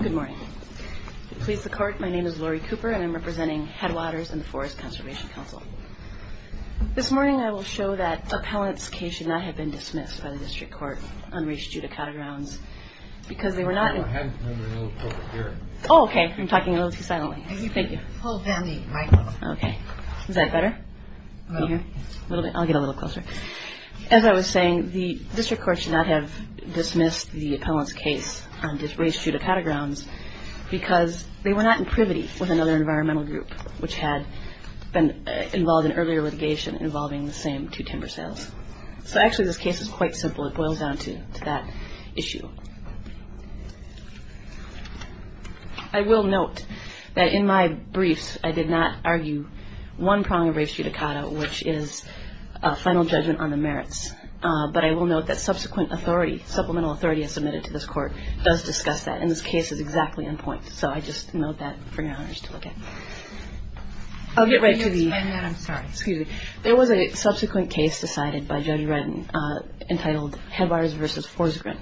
Good morning. Please record my name is Lori Cooper and I'm representing Tadwaters in the Forest Conservation Council. This morning I will show that appellant's case did not have been dismissed by the district court on reach due to catagrounds. Because they were not... Oh, okay. I'm talking a little too silently. Is that better? I'll get a little closer. As I was saying, the district court should not have dismissed the appellant's case on this reach due to catagrounds because they were not in privity with another environmental group which had been involved in earlier litigation involving the same two timber sales. So actually this case is quite simple. It boils down to that issue. I will note that in my brief I did not argue one prong of reach due to cata, which is a final judgment on the merits. But I will note that subsequent authority, supplemental authority submitted to this court does discuss that. And this case is exactly on point. So I just note that for your honors to look at. I'll get right to these. There was a subsequent case decided by Judge Redden entitled Headwaters v. Forsgren,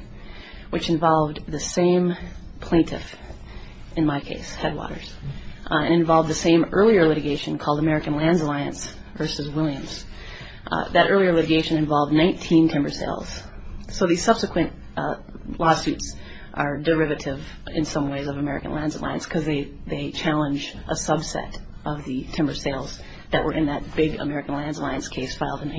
which involved the same plaintiff in my case, Headwaters, and involved the same earlier litigation called American Land Alliance v. Williams. That earlier litigation involved 19 timber sales. So these subsequent lawsuits are derivative in some ways of American Land Alliance because they challenge a subset of the timber sales that were in that big American Land Alliance case filed in 1999.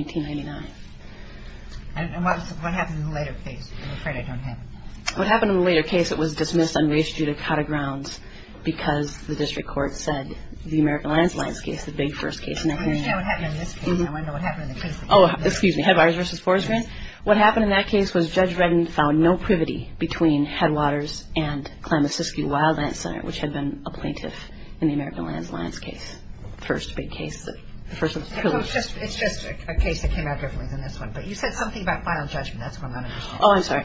And what happened in the later case? I'm afraid I don't have it. What happened in the later case, it was dismissed on reach due to catagrounds because the district court said the American Land Alliance case was the big first case. Can you say what happened in this case? I want to know what happened in the previous case. Oh, excuse me. Headwaters v. Forsgren? What happened in that case was Judge Redden found no privity between Headwaters and Klamath-Siskey Wildlands Center, which had been a plaintiff in the American Land Alliance case, the first big case. It's just a case that came out differently than this one, but you said something about final judgment. Oh, I'm sorry.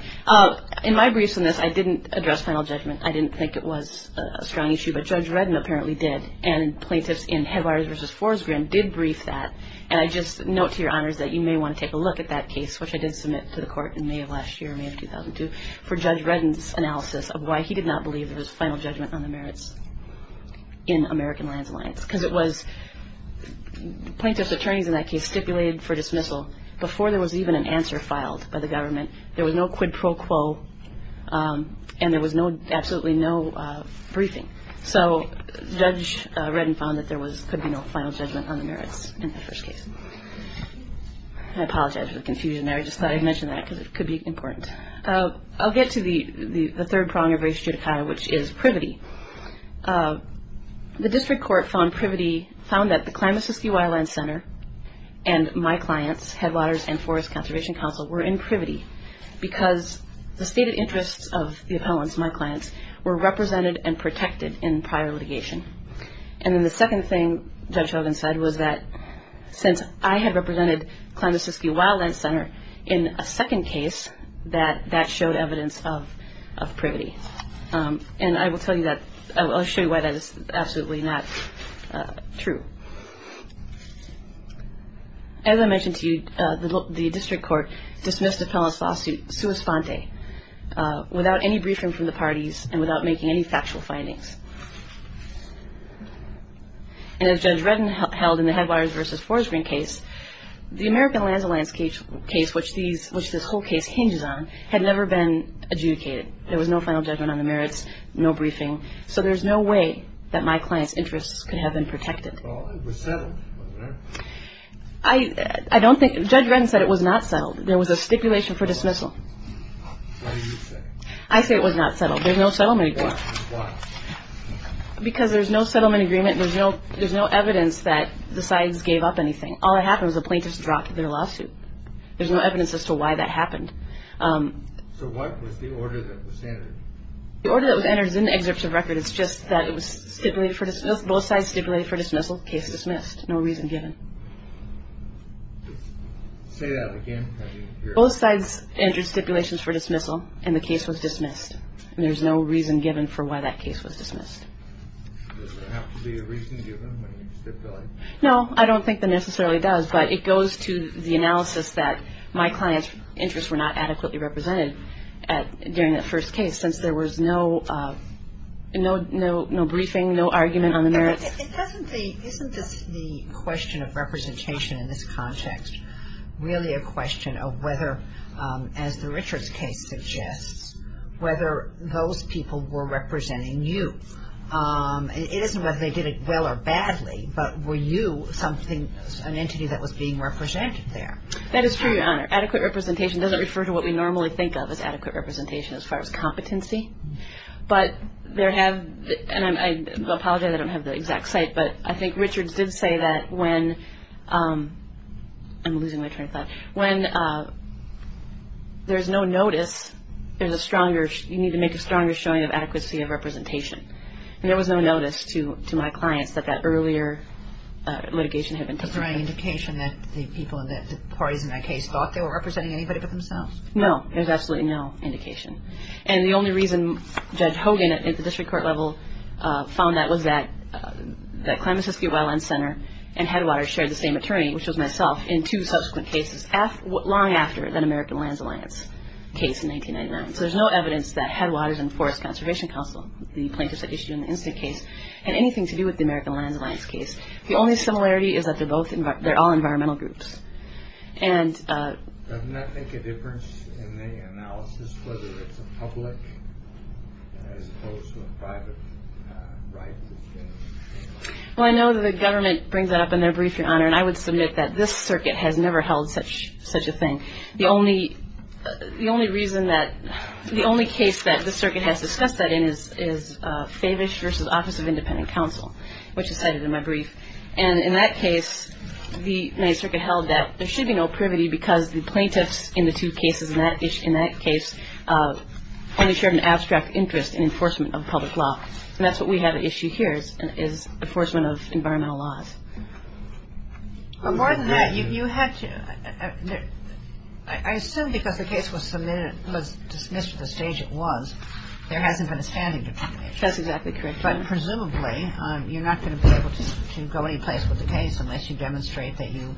In my briefs on this, I didn't address final judgment. I didn't think it was a strong issue, but Judge Redden apparently did, and plaintiffs in Headwaters v. Forsgren did brief that. And I just note to your honors that you may want to take a look at that case, which I did submit to the court in May of last year, May of 2002, for Judge Redden's analysis of why he did not believe there was final judgment on the merits in American Land Alliance because it was plaintiff's attorneys in that case stipulated for dismissal. Before there was even an answer filed by the government, there was no quid pro quo, and there was absolutely no briefing. So Judge Redden found that there could be no final judgment on the merits in that first case. And I apologize for the confusion there. I just thought I'd mention that because it could be important. I'll get to the third prong of race judicata, which is privity. The district court found that the Klamath-Siskey Wildlands Center and my clients, Headwaters and Forest Conservation Council, were in privity because the stated interests of the appellants, my clients, were represented and protected in prior litigation. And then the second thing Judge Redden said was that since I had represented Klamath-Siskey Wildlands Center in a second case, that that showed evidence of privity. And I will show you why that is absolutely not true. As I mentioned to you, the district court dismissed the Klamath lawsuit sua sponte, without any briefing from the parties and without making any factual findings. And as Judge Redden held in the Headwaters v. Forest Green case, the American Land Alliance case, which this whole case hinges on, had never been adjudicated. There was no final judgment on the merits, no briefing. So there's no way that my client's interests could have been protected. I don't think Judge Redden said it was not settled. There was a stipulation for dismissal. I say it was not settled. There's no settlement agreement. Because there's no settlement agreement, there's no evidence that the sides gave up anything. All that happened was the plaintiffs dropped their lawsuit. There's no evidence as to why that happened. So what was the order that was entered? The order that was entered is in the excerpts of record. It's just that it was stipulated for dismissal. Both sides stipulated for dismissal. Case was dismissed. No reason given. Say that again. Both sides entered stipulations for dismissal, and the case was dismissed. And there's no reason given for why that case was dismissed. Does it have to be a reason given when you stipulate? No, I don't think that necessarily does. But it goes to the analysis that my client's interests were not adequately represented during that first case, since there was no briefing, no argument on the merits. Isn't the question of representation in this context really a question of whether, as the Richards case suggests, whether those people were representing you? It isn't whether they did it well or badly, but were you something, an entity that was being represented there? That is true, Your Honor. Adequate representation doesn't refer to what we normally think of as adequate representation as far as competency. But there have, and I apologize I don't have the exact site, but I think Richards did say that when, I'm losing my train of thought, when there's no notice, there's a stronger, you need to make a stronger showing of adequacy of representation. And there was no notice to my client that that earlier litigation had been taken. Was there any indication that the people, that the parties in that case, thought they were representing anybody but themselves? No, there's absolutely no indication. And the only reason Judge Hogan at the district court level found that was that Clemson City Well and Center and Headwaters shared the same attorney, which was myself, in two subsequent cases, long after that American Land Alliance case in 1999. So there's no evidence that Headwaters and Forest Conservation Council, the plaintiffs that issued an incident case, had anything to do with the American Land Alliance case. The only similarity is that they're all environmental groups. Does that make a difference in the analysis, whether it's the public as opposed to a private right? Well, I know the government brings that up in their brief, Your Honor, and I would submit that this circuit has never held such a thing. The only reason that, the only case that this circuit has discussed that is Skavish v. Office of Independent Counsel, which is cited in my brief. And in that case, the circuit held that there should be no privity because the plaintiffs in the two cases, in that case, only shared an abstract interest in enforcement of public law. And that's what we have at issue here, is enforcement of environmental laws. Well, more than that, you had to, I assume because the case was submitted, it was dismissed at the stage it was, there hasn't been a standing committee. That's exactly correct. But presumably, you're not going to be able to go anyplace with the case unless you demonstrate that you,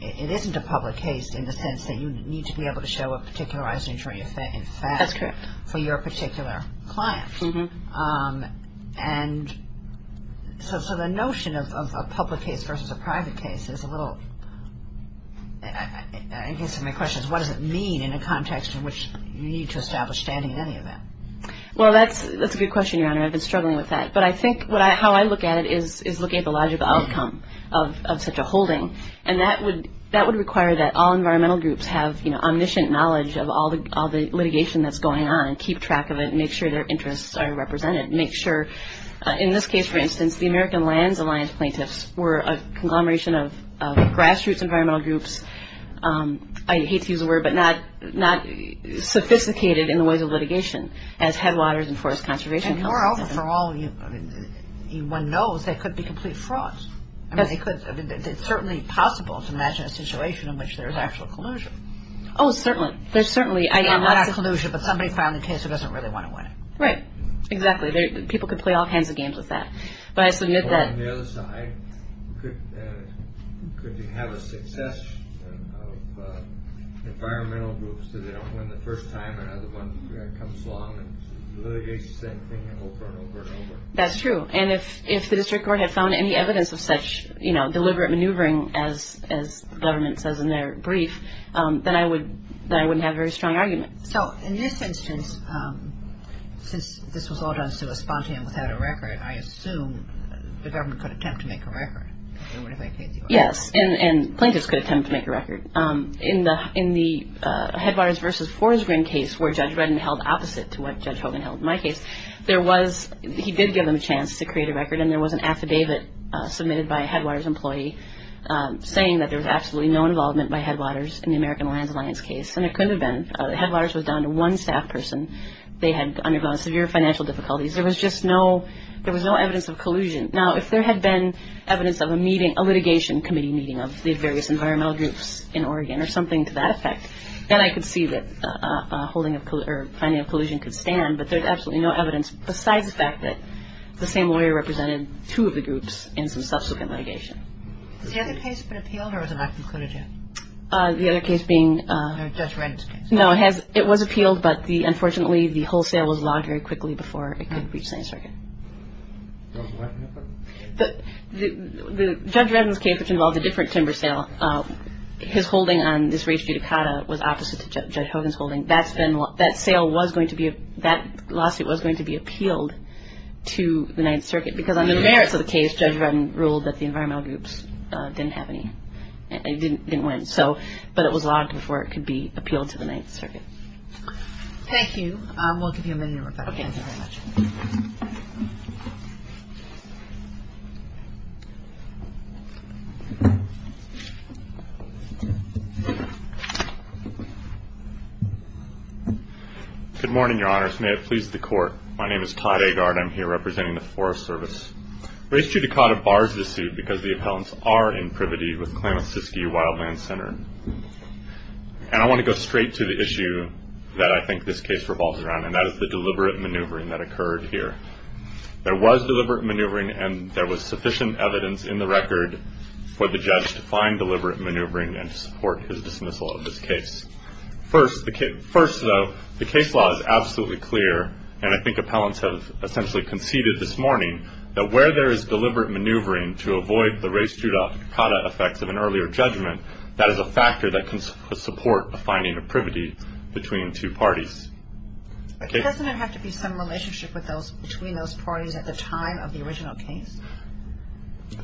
it isn't a public case in the sense that you need to be able to show a particularized injury offense. That's correct. For your particular client. And so the notion of a public case versus a private case is a little, I guess my question is what does it mean in a context in which you need to establish standing in any event? Well, that's a good question, Your Honor. I've been struggling with that. But I think how I look at it is looking at the logical outcome of such a holding. And that would require that all environmental groups have, you know, omniscient knowledge of all the litigation that's going on and keep track of it and make sure their interests are represented. Make sure, in this case, for instance, the American Lands Alliance plaintiffs were a conglomeration of grass roots environmental groups. I hate to use the word, but not sophisticated in the way of litigation, as headwaters and forest conservation. And moreover, for all in one knows, they could be complete frauds. It's certainly possible to imagine a situation in which there is actual collusion. Oh, certainly. There's certainly. Not collusion, but somebody found the case and doesn't really want to win it. Right. Exactly. People could play all kinds of games with that. On the other side, could you have a success of environmental groups that have won the first time and another one comes along and deliberates, then they can open over and over. That's true. And if the district court had found any evidence of such, you know, deliberate maneuvering, as the government says in their brief, then I wouldn't have a very strong argument. So, in this instance, since this was all done sort of spontaneously and without a record, I assume the government could attempt to make a record. Yes. And plaintiffs could attempt to make a record. In the headwaters versus forest grant case, where Judge Rudin held opposite to what Judge Hogan held in my case, there was, he did give them a chance to create a record, and there was an affidavit submitted by a headwaters employee saying that there was absolutely no involvement by headwaters in the American Land Alliance case. And there could have been. Headwaters was down to one staff person. They had undergone severe financial difficulties. There was just no, there was no evidence of collusion. Now, if there had been evidence of a meeting, a litigation committee meeting of these various environmental groups in Oregon or something to that effect, then I could see that a holding of collusion or signing of collusion could stand, but there's absolutely no evidence besides the fact that the same lawyer represented two of the groups in some subsequent litigation. Was the other case appealed or was it not concluded yet? The other case being... Judge Rudin's case. No, it was appealed, but unfortunately, the whole sale was lost very quickly before it could have reached the end circuit. The Judge Rudin's case, which involved a different timber sale, his holding on this race judicata was opposite to Judge Hogan's holding. And that sale was going to be, that lawsuit was going to be appealed to the Ninth Circuit because on the merits of the case, Judge Rudin ruled that the environmental groups didn't have any, didn't win. So, but it was lost before it could be appealed to the Ninth Circuit. Thank you. We'll give you a minute, Rebecca. Thank you very much. Good morning, Your Honors. May it please the Court. My name is Todd Agard. I'm here representing the Forest Service. Race judicata bars this suit because the accounts are in privity with the claim of Siskiyou Wildland Center. And I want to go straight to the issue that I think this case revolves around, and that is the deliberate maneuvering that occurred here. There was deliberate maneuvering, and there was sufficient evidence in the record for the judge to find deliberate maneuvering and support his dismissal of this case. First, though, the case law is absolutely clear, and I think appellants have essentially conceded this morning that where there is deliberate maneuvering to avoid the race judicata effects of an earlier judgment, that is a factor that can support the finding of privity between two parties. Doesn't it have to be some relationship between those parties at the time of the original case?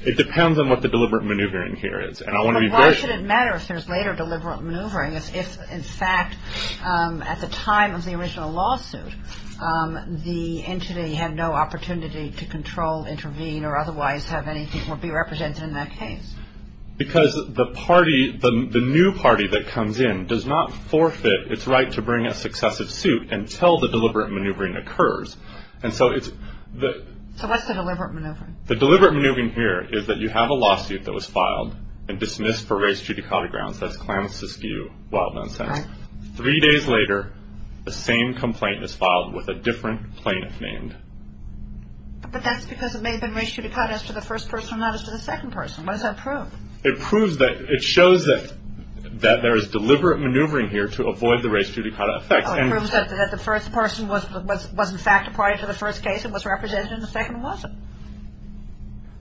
It depends on what the deliberate maneuvering here is, and I want to be very clear. It doesn't matter if there's later deliberate maneuvering if, in fact, at the time of the original lawsuit, the entity had no opportunity to control, intervene, or otherwise have any people be represented in that case. Because the party, the new party that comes in, does not forfeit its right to bring a successive suit until the deliberate maneuvering occurs. So what's the deliberate maneuvering? The deliberate maneuvering here is that you have a lawsuit that was filed and dismissed for race judicata grounds, that's Clamiscus View, Wild Mountain. Three days later, the same complaint is filed with a different plaintiff named. But that's because it may have been race judicata as to the first person, not as to the second person. What does that prove? It proves that it shows that there is deliberate maneuvering here to avoid the race judicata effect. No, it proves that the first person was in fact a part of the first case. It was represented in the second lawsuit.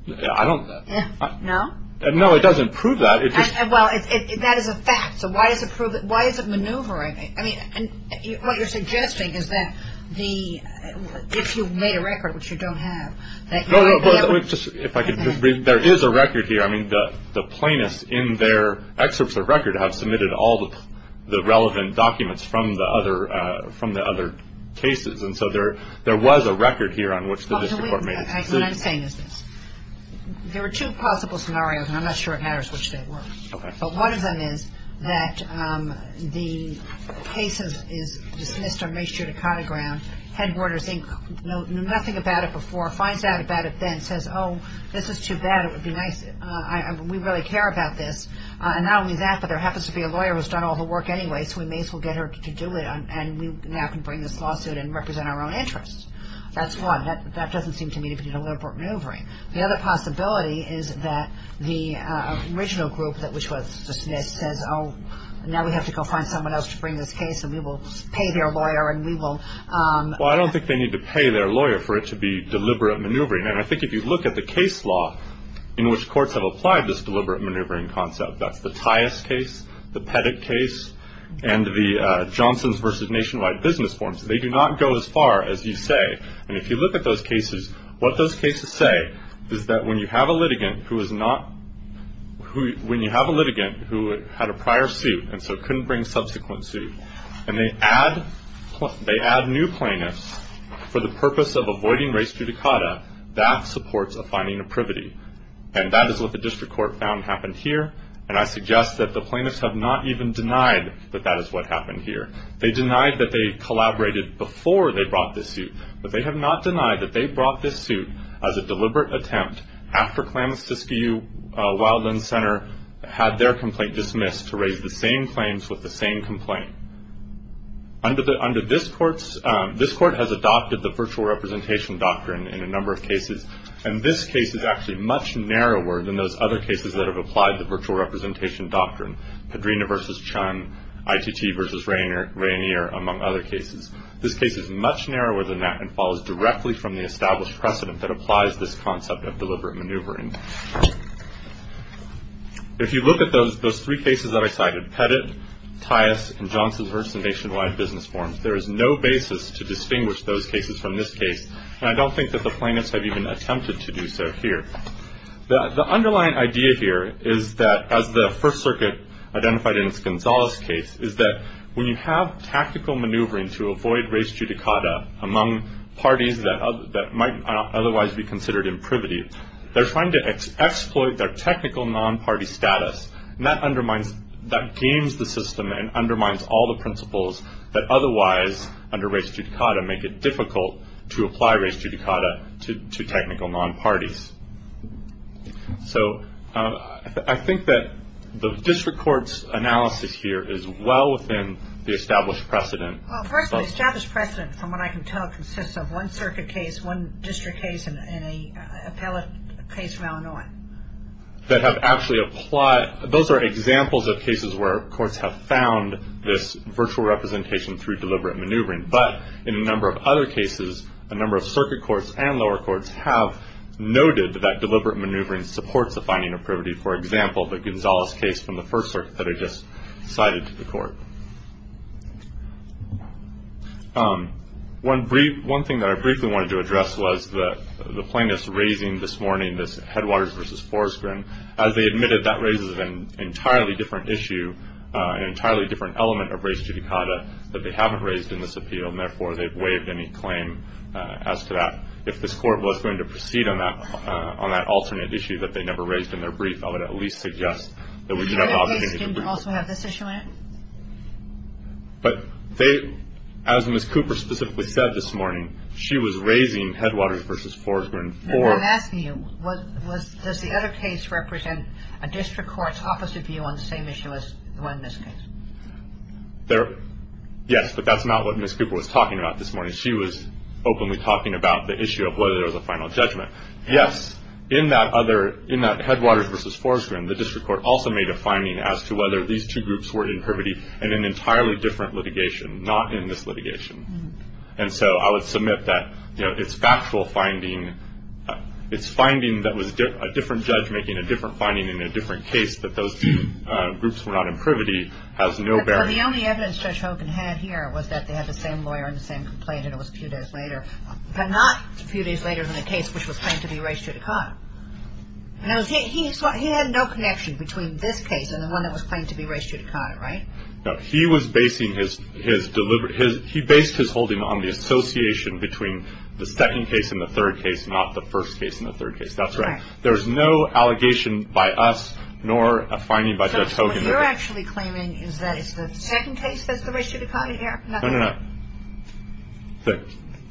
I don't... No? No, it doesn't prove that. Well, that is a fact. So why is it maneuvering? I mean, what you're suggesting is that if you've made a record, which you don't have... No, no. If I could just bring... There is a record here. I mean, the plaintiffs in their excerpts of record have submitted all the relevant documents from the other cases. And so there was a record here on which the district court made it. There are two possible scenarios, and I'm not sure it matters which they were. Okay. But one of them is that the case is dismissed on race judicata grounds, headquarters, nothing about it before, finds out about it then and says, oh, this is too bad, it would be nice, we really care about this. And not only that, but there happens to be a lawyer who's done all the work anyway, so we may as well get her to do it and we now can bring this lawsuit and represent our own interests. That's one. That doesn't seem to me to be deliberate maneuvering. The other possibility is that the original group, which was the Smiths, says, oh, now we have to go find someone else to bring this case and we will pay their lawyer and we will. Well, I don't think they need to pay their lawyer for it to be deliberate maneuvering. And I think if you look at the case law in which courts have applied this deliberate maneuvering concept, that's the Tyess case, the Pettit case, and the Johnson versus Nationwide business forms, they do not go as far as you say. And if you look at those cases, what those cases say is that when you have a litigant who is not – and they add new plaintiffs for the purpose of avoiding race judicata, that supports a finding of privity. And that is what the district court found happened here, and I suggest that the plaintiffs have not even denied that that is what happened here. They denied that they collaborated before they brought this suit, but they have not denied that they brought this suit as a deliberate attempt after Klamath-Pitskiu Wildland Center had their complaint dismissed to raise the same claims with the same complaint. Under this court's – this court has adopted the virtual representation doctrine in a number of cases, and this case is actually much narrower than those other cases that have applied the virtual representation doctrine, Padrina versus Chun, ICT versus Rainier, among other cases. This case is much narrower than that and falls directly from the established precedent that applies this concept of deliberate maneuvering. If you look at those three cases that I cited, Pettit, Tias, and Johnson versus Nationwide business forms, there is no basis to distinguish those cases from this case, and I don't think that the plaintiffs have even attempted to do so here. The underlying idea here is that, as the First Circuit identified in Gonzalez's case, is that when you have tactical maneuvering to avoid res judicata among parties that might otherwise be considered imprivity, they're trying to exploit their technical non-party status, and that undermines – that games the system and undermines all the principles that otherwise, under res judicata, make it difficult to apply res judicata to technical non-parties. So I think that the district court's analysis here is well within the established precedent. Well, first, the established precedent, from what I can tell, consists of one circuit case, one district case, and an appellate case from Illinois. That have actually applied – those are examples of cases where courts have found this virtual representation through deliberate maneuvering, but in a number of other cases, a number of circuit courts and lower courts have noted that deliberate maneuvering supports the finding of privity. For example, the Gonzalez case from the First Circuit that I just cited to the court. One thing that I briefly wanted to address was the plaintiffs raising this morning this Headwaters v. Forreston. As they admitted, that raises an entirely different issue, an entirely different element of res judicata, that they haven't raised in this appeal, and therefore, they've waived any claim as to that. If this court was going to proceed on that alternate issue that they never raised in their brief, I would at least suggest that we unilaterally – Did they also have this issue in it? But they – as Ms. Cooper specifically said this morning, she was raising Headwaters v. Forreston for – Matthew, does the other case represent a district court's opposite view on the same issue as the one in this case? There – yes, but that's not what Ms. Cooper was talking about this morning. She was openly talking about the issue of whether there was a final judgment. Yes, in that other – in that Headwaters v. Forreston, the district court also made a finding as to whether these two groups were in privity in an entirely different litigation, not in this litigation. And so I would submit that, you know, its factual finding – its finding that was a different judge making a different finding in a different case, that those groups were not in privity, has no bearing – But the only evidence Judge Hopin had here was that they had the same lawyer and the same complaint, and it was a few days later, but not a few days later than the case which was claimed to be race judicata. He had no connection between this case and the one that was claimed to be race judicata, right? No, he was basing his – he based his holding on the association between the second case and the third case, not the first case and the third case. That's right. There is no allegation by us, nor a finding by Judge Hopin. What you're actually claiming is that if the second case is race judicata, you have nothing. No, no, no.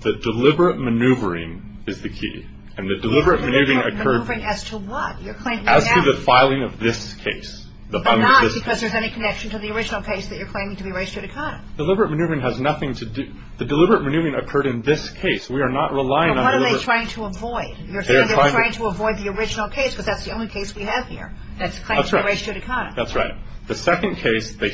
The deliberate maneuvering is the key. And the deliberate maneuvering occurred – Deliberate maneuvering as to what? As to the filing of this case. But not because there's any connection to the original case that you're claiming to be race judicata. Deliberate maneuvering has nothing to do – the deliberate maneuvering occurred in this case. We are not relying on – So what are they trying to avoid? You're saying they're trying to avoid the original case, but that's the only case we have here. That's race judicata. That's right. The second case, they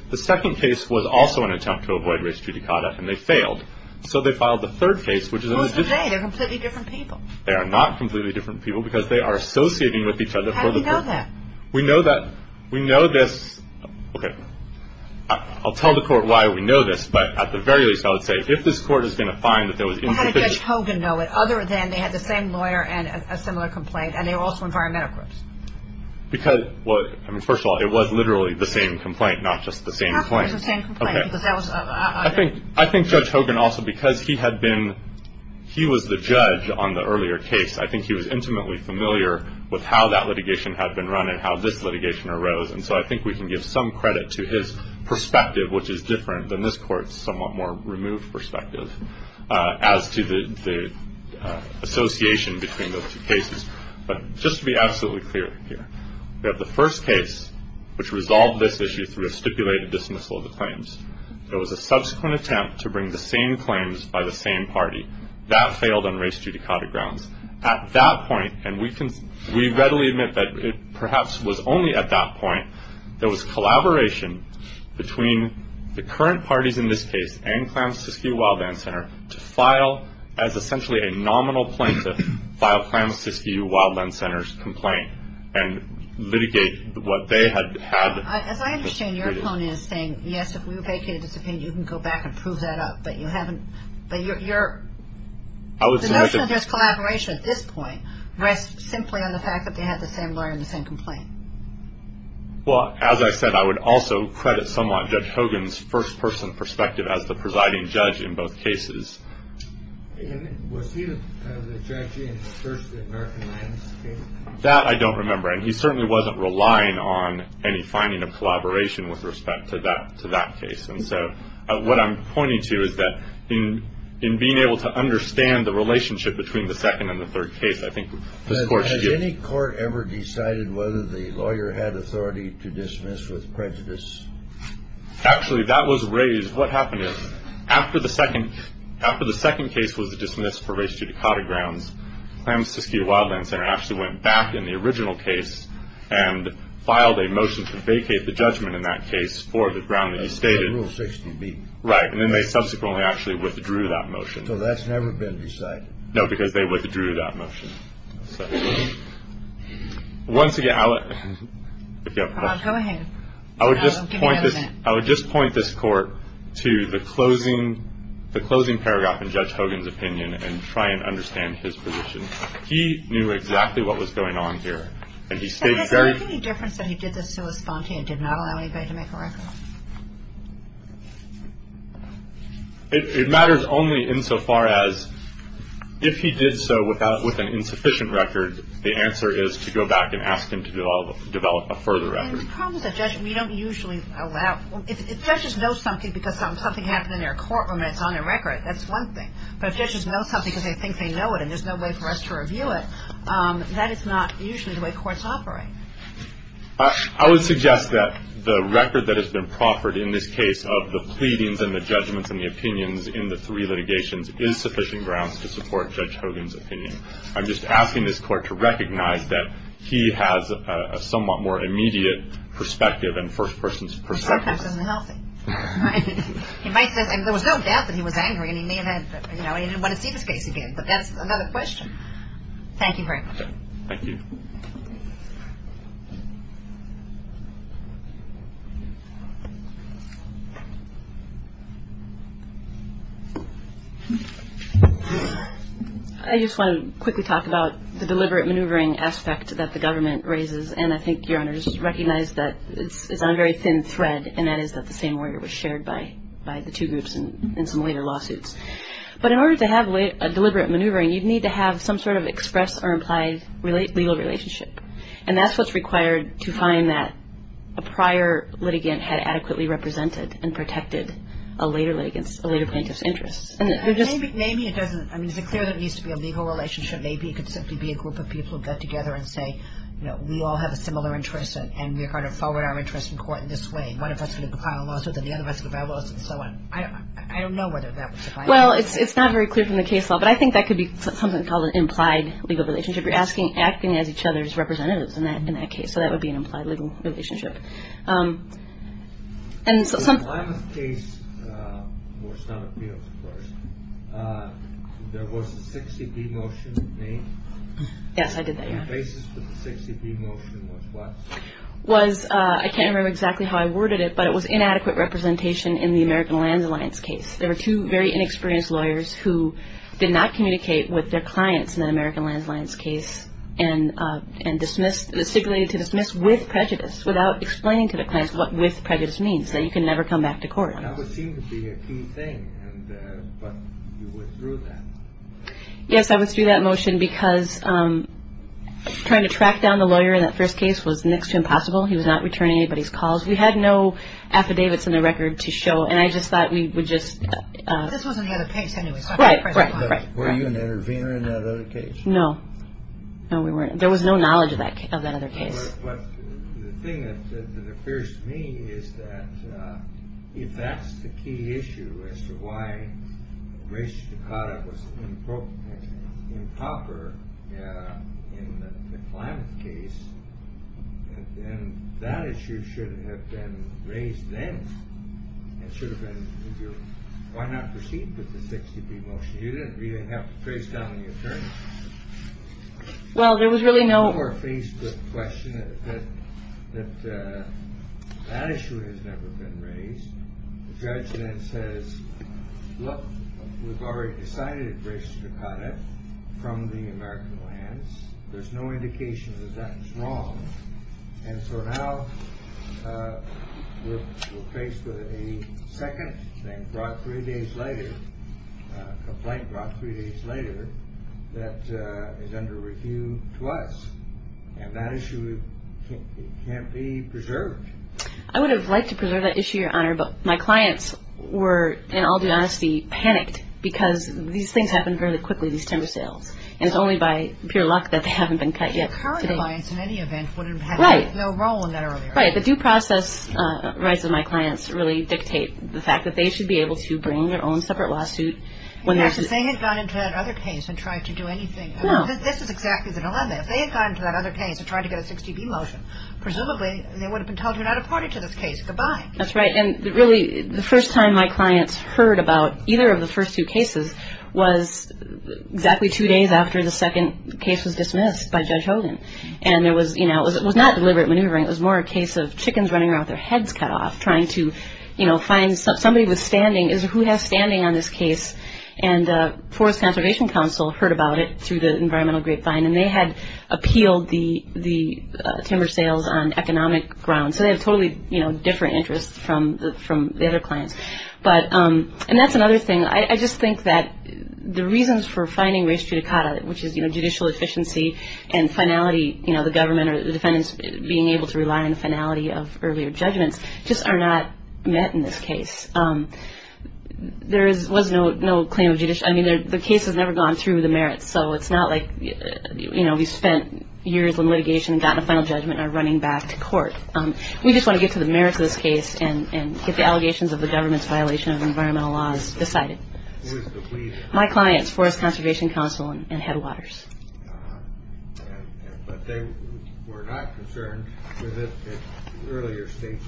– the second case was also an attempt to avoid race judicata, and they failed. So they filed the third case, which is – What's to say? They're completely different people. They are not completely different people because they are associating with each other for the – How do you know that? We know that – we know that – okay. I'll tell the Court why we know this, but at the very least, I would say, if this Court is going to find that there was – How does Judge Hogan know it, other than they had the same lawyer and a similar complaint, and they were also environmentalists? Because – well, I mean, first of all, it was literally the same complaint, not just the same complaint. It was the same complaint, but that was – I think Judge Hogan also, because he had been – he was the judge on the earlier case, I think he was intimately familiar with how that litigation had been run and how this litigation arose, and so I think we can give some credit to his perspective, which is different than this Court's somewhat more removed perspective, as to the association between those two cases. But just to be absolutely clear here, we have the first case, which resolved this issue through a stipulated dismissal of the claims. There was a subsequent attempt to bring the same claims by the same party. That failed on race-judicata grounds. At that point – and we can – we readily admit that it perhaps was only at that point that there was collaboration between the current parties in this case and Klamath-Fiske-U-Wildland Center to file – as essentially a nominal plaintiff, file Klamath-Fiske-U-Wildland Center's complaint and litigate what they had had. As I understand, your tone is saying, yes, if we vacate the case, you can go back and prove that up, but you haven't – but your – the notion of this collaboration at this point rests simply on the fact that they had the same lawyer and the same complaint. Well, as I said, I would also credit somewhat Judge Hogan's first-person perspective as the presiding judge in both cases. Was he the judge in the first American land case? That I don't remember. And he certainly wasn't relying on any finding of collaboration with respect to that case. And so what I'm pointing to is that in being able to understand the relationship between the second and the third case, I think – Has any court ever decided whether the lawyer had authority to dismiss with prejudice? Actually, that was raised. What happened is, after the second case was dismissed for race to Dakota grounds, Klamath-Fiske-U-Wildland Center actually went back in the original case and filed a motion to vacate the judgment in that case for the ground that you stated. Rule 60B. Right. And then they subsequently actually withdrew that motion. So that's never been decided. No, because they withdrew that motion. Once again, I would just point this court to the closing paragraph in Judge Hogan's opinion and try and understand his position. He knew exactly what was going on here. And he stated very – Was there any difference when he did this to Estante and did not allow anybody to make a record? It matters only insofar as, if he did so with an insufficient record, the answer is to go back and ask him to develop a further record. And the problem with the judgment, you don't usually allow – if judges know something because something happened in their courtroom and it's on a record, that's one thing. But if judges know something because they think they know it and there's no way for us to review it, that is not usually the way courts operate. I would suggest that the record that has been proffered in this case of the pleadings and the judgments and the opinions in the three litigations is sufficient grounds to support Judge Hogan's opinion. I'm just asking this court to recognize that he has a somewhat more immediate perspective and first-person perspective. And there was no doubt that he was angry and he didn't want to see his face again. But that's another question. Thank you very much. Thank you. Thank you. I just want to quickly talk about the deliberate maneuvering aspect that the government raises. And I think your Honor just recognized that it's on a very thin thread, and that is that the same order was shared by the two groups in some later lawsuits. But in order to have a deliberate maneuvering, you'd need to have some sort of express or implied legal relationship. And that's what's required to find that a prior litigant had adequately represented and protected a later plaintiff's interest. Maybe it doesn't. I mean, it's clear there needs to be a legal relationship. Maybe it could simply be a group of people get together and say, you know, we all have a similar interest, and we're going to forward our interest in court in this way. One of us is going to file a lawsuit, and the other one is going to file a lawsuit, and so on. I don't know whether that would suffice. Well, it's not very clear from the case law. But I think that could be something called an implied legal relationship. You're asking, acting as each other's representatives in that case. So that would be an implied legal relationship. The land case was not appealed for. There was a 60-D notion made. Yes, I did that, yes. The basis of the 60-D notion was what? Was, I can't remember exactly how I worded it, but it was inadequate representation in the American Land Alliance case. There were two very inexperienced lawyers who did not communicate with their clients in the American Land Alliance case and dismissed, stipulated to dismiss with prejudice without explaining to the clients what with prejudice means, that you can never come back to court. That would seem to be a key thing, but you went through that. Yes, I went through that motion because trying to track down the lawyer in that first case was next to impossible. He was not returning anybody's calls. We had no affidavit from the record to show, and I just thought we would just. This wasn't in the other case anyway. Right, right, right. Were you an intervener in that other case? No. No, we weren't. There was no knowledge of that other case. Well, the thing that appears to me is that if that's the key issue as to why Grace Takata was, in quote, improper in the climate case, then that issue should have been raised then. It should have been, why not proceed with the 60-D motion? You didn't have to trace down any attorneys. Well, there was really no. You were faced with the question that that issue has never been raised. The judge then says, look, we've already decided it's Grace Takata from the American lands. There's no indication that that is wrong. And so now we're faced with a second complaint brought three days later that is under review to us, and that issue can't be preserved. I would have liked to preserve that issue, Your Honor, but my clients were, and I'll be honest, be panicked because these things happen very quickly, these timber sales, and it's only by pure luck that they haven't been cut yet. The current clients, in any event, would have had no role in that earlier. Right. The due process rights of my clients really dictate the fact that they should be able to bring their own separate lawsuit. If they had gone into that other case and tried to do anything. No. This is exactly the dilemma. If they had gone into that other case and tried to get a 60-D motion, presumably they would have been told they're not a part of this case. Goodbye. That's right. And really the first time my clients heard about either of the first two cases was exactly two days after the second case was dismissed by Judge Hogan, and it was not deliberate maneuvering. It was more a case of chickens running around with their heads cut off trying to find somebody with standing. Who has standing on this case? And the Forest Conservation Council heard about it through the Environmental Grapevine, and they had appealed the timber sales on economic grounds, so they have totally different interests from the other clients, and that's another thing. I just think that the reasons for finding res judicata, which is judicial efficiency and finality, the government or the defendants being able to rely on the finality of earlier judgment, just are not met in this case. There was no claim of judicial. I mean, the case has never gone through the merits, so it's not like we've spent years on litigation and gotten a final judgment and are running back to court. We just want to get to the merits of this case and get the allegations of the government's violation of environmental laws decided. My clients, Forest Conservation Council and Headwaters. But they were not concerned with this case, the earlier cases.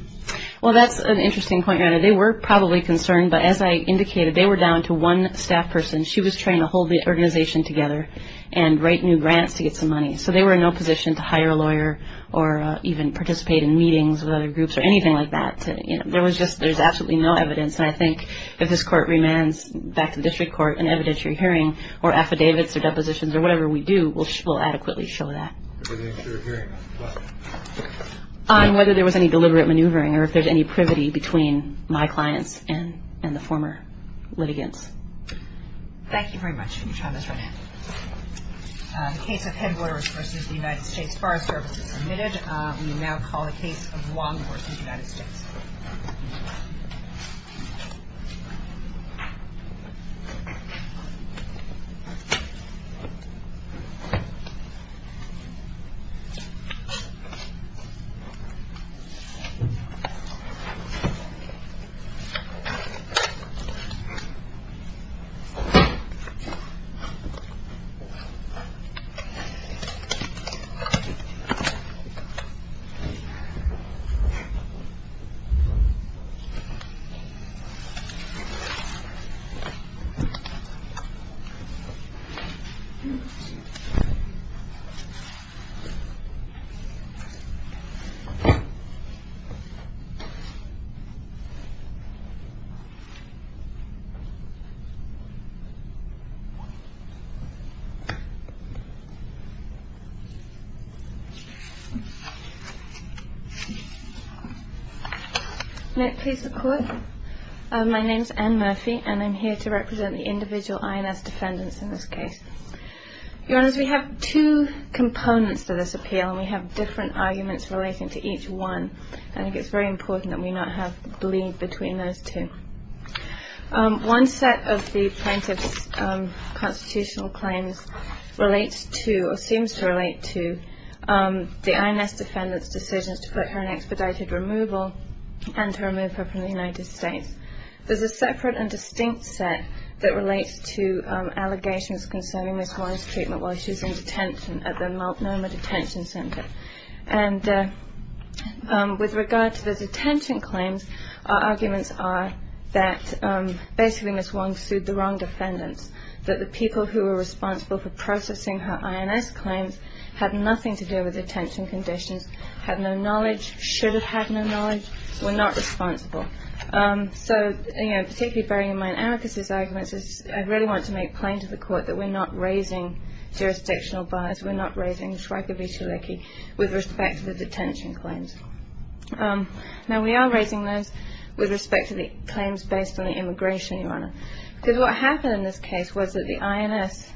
Well, that's an interesting point. They were probably concerned, but as I indicated, they were down to one staff person. She was trying to hold the organization together and write new grants to get some money, so they were in no position to hire a lawyer or even participate in meetings with other groups or anything like that. There was just – there's absolutely no evidence, and I think if this court remands back to district court an evidentiary hearing or affidavits or depositions or whatever we do, we'll adequately show that. On whether there was any deliberate maneuvering or if there's any privity between my clients and the former litigants. Thank you very much, Ms. Robinson. The case of Headwaters v. United States Forest Service is admitted. We will now call the case of Longworth v. United States. Thank you. Next, please, the court. My name's Anne Murphy, and I'm here to represent the individual INS defendants in this case. Your Honor, we have two components to this appeal, and we have different arguments relating to each one, and I think it's very important that we not have bleed between those two. One set of the plaintiff's constitutional claims relates to or seems to relate to the INS defendant's decision to put her in expedited removal and to remove her from the United States. There's a separate and distinct set that relates to allegations concerning Nicole's treatment while she's in detention at the Multnomah Detention Center. And with regard to the detention claims, our arguments are that basically Ms. Wong sued the wrong defendants, that the people who were responsible for processing her INS claims had nothing to do with detention conditions, had no knowledge, should have had no knowledge, were not responsible. So, you know, particularly bearing in mind Anne Murphy's argument, I really want to make plain to the court that we're not raising jurisdictional bias. We're not raising Schreiber v. Chalicki with respect to the detention claims. Now, we are raising those with respect to the claims based on the immigration, Your Honor, because what happened in this case was that the INS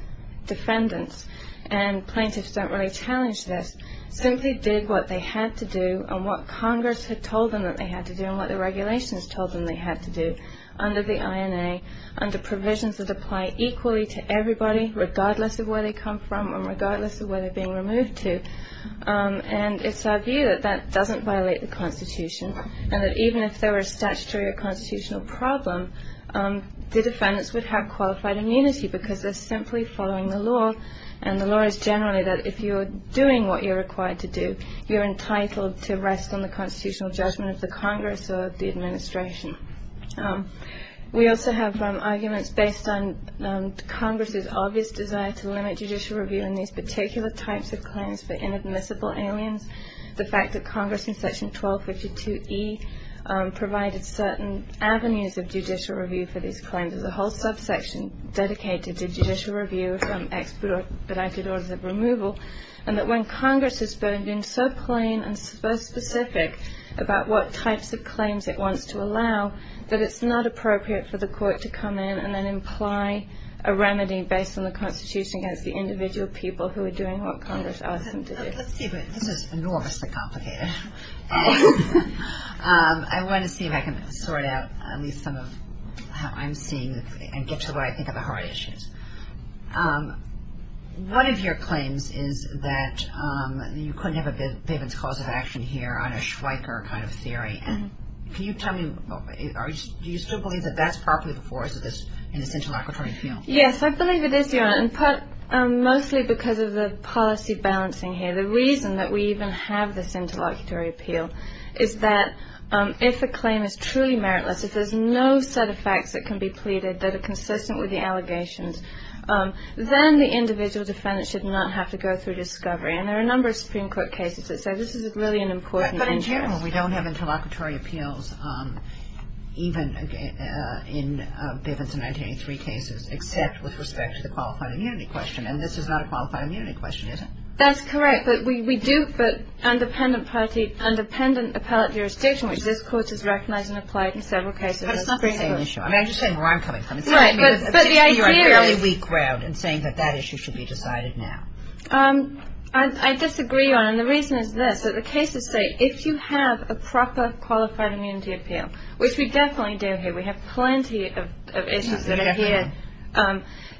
defendants, and plaintiffs don't really challenge this, simply did what they had to do and what Congress had told them that they had to do and what the regulations told them they had to do under the INA, under provisions that apply equally to everybody regardless of where they come from and regardless of where they're being removed to. And it's our view that that doesn't violate the Constitution and that even if there were a statutory or constitutional problem, the defendants would have qualified immunity because they're simply following the law and the law is generally that if you're doing what you're required to do, you're entitled to rest on the constitutional judgment of the Congress or the administration. We also have some arguments based on Congress's obvious desire to limit judicial review in these particular types of claims for inadmissible aliens. The fact that Congress in Section 1252E provided certain avenues of judicial review for these claims. The whole subsection dedicated to judicial review from expedited orders of removal and that when Congress has been so plain and so specific about what types of claims it wants to allow, that it's not appropriate for the court to come in and then imply a remedy based on the Constitution against the individual people who are doing what Congress asked them to do. Let's see, this is enormously complicated. I want to see if I can sort out at least some of how I'm seeing this and get to where I think are the hard issues. One of your claims is that you couldn't have a bit of causative action here on a Schweiker kind of theory. Can you tell me, do you still believe that that's probably the force of this interlocutory appeal? Yes, I believe it is. And mostly because of the policy balancing here. The reason that we even have this interlocutory appeal is that if a claim is truly meritless, if there's no set of facts that can be pleaded that are consistent with the allegations, then the individual defendant should not have to go through discovery. And there are a number of Supreme Court cases that say this is really an important issue. But in general, we don't have interlocutory appeals, even in Bivens in 1983 cases, except with respect to the qualified immunity question. And this is not a qualified immunity question, is it? That's correct. But we do put independent appellate jurisdiction, which this Court has recognized and applied in several cases. But it's not the same issue. I'm just saying where I'm coming from. Right, but the idea is... You're a fairly weak crowd in saying that that issue should be decided now. I disagree on it. And the reason is this, that the cases say if you have a proper qualified immunity appeal, which we definitely do here. We have plenty of issues that are here.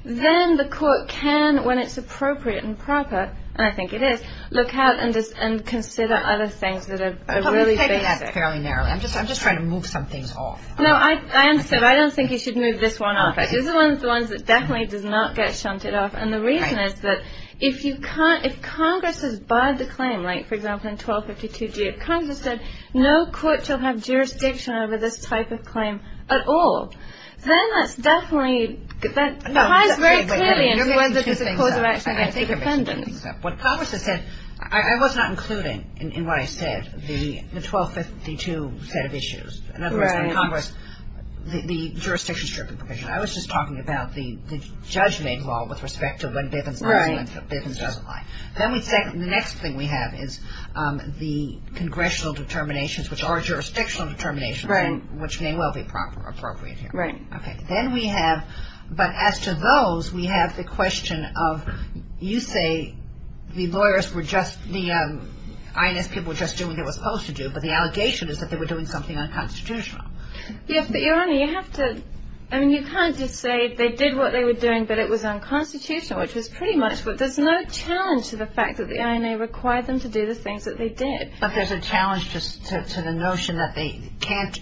Then the Court can, when it's appropriate and proper, and I think it is, look out and consider other things that are really significant. But we're taking that fairly narrowly. I'm just trying to move some things off. No, I understand. I don't think you should move this one off. This is one of the ones that definitely does not get shunted off. And the reason is that if Congress has barred the claim, like, for example, in 1252G, if Congress said no Court shall have jurisdiction over this type of claim at all, then that's definitely... No, wait, wait, wait. Let me add two things up. Let me add two things up. What Congress has said, I was not including in what I said the 1252 set of issues. Correct. In Congress, the jurisdiction strip information. I was just talking about the judgment law with respect to what they've been talking about. Then the next thing we have is the congressional determinations, which are jurisdictional determinations, which may well be appropriate here. Right. Then we have, but as to those, we have the question of, you say the lawyers were just, the INF people were just doing what they were supposed to do, but the allegation is that they were doing something unconstitutional. Yes, but, Your Honor, you have to, I mean, you can't just say they did what they were doing, but it was unconstitutional, which is pretty much, but there's no challenge to the fact that the NRA required them to do the things that they did. But there's a challenge to the notion that they can't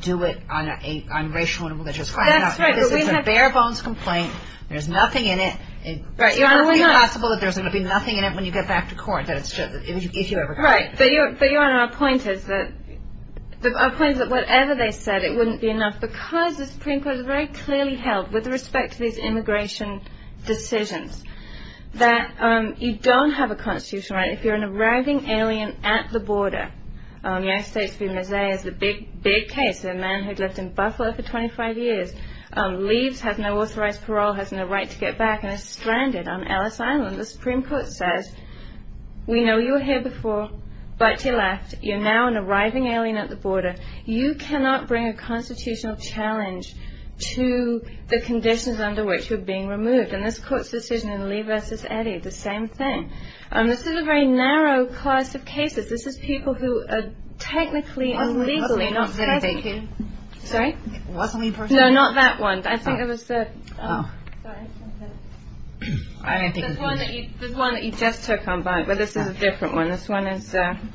do it on racial and religious grounds. That's right, but we have to... It's a bare bones complaint. There's nothing in it. Right, Your Honor, we know. It's only possible that there's going to be nothing in it when you get back to court, if you ever come back. Right. But, Your Honor, our point is that, our point is that whatever they said, it wouldn't be enough, because the Supreme Court has very clearly held, with respect to these immigration decisions, that you don't have a constitutional right if you're an arriving alien at the border. The United States being there is a big, big case. A man who's lived in Buffalo for 25 years, leaves, has no authorized parole, has no right to get back, and is stranded on Ellis Island. The Supreme Court says, we know you were here before, but, alas, you're now an arriving alien at the border. You cannot bring a constitutional challenge to the conditions under which you're being removed. And this court's decision in Lee v. Eddy is the same thing. This is a very narrow class of cases. This is people who are technically and legally... Sorry? No, not that one. I think it was the... Oh. Sorry. This one that you just took on, but this is a different one. This one is from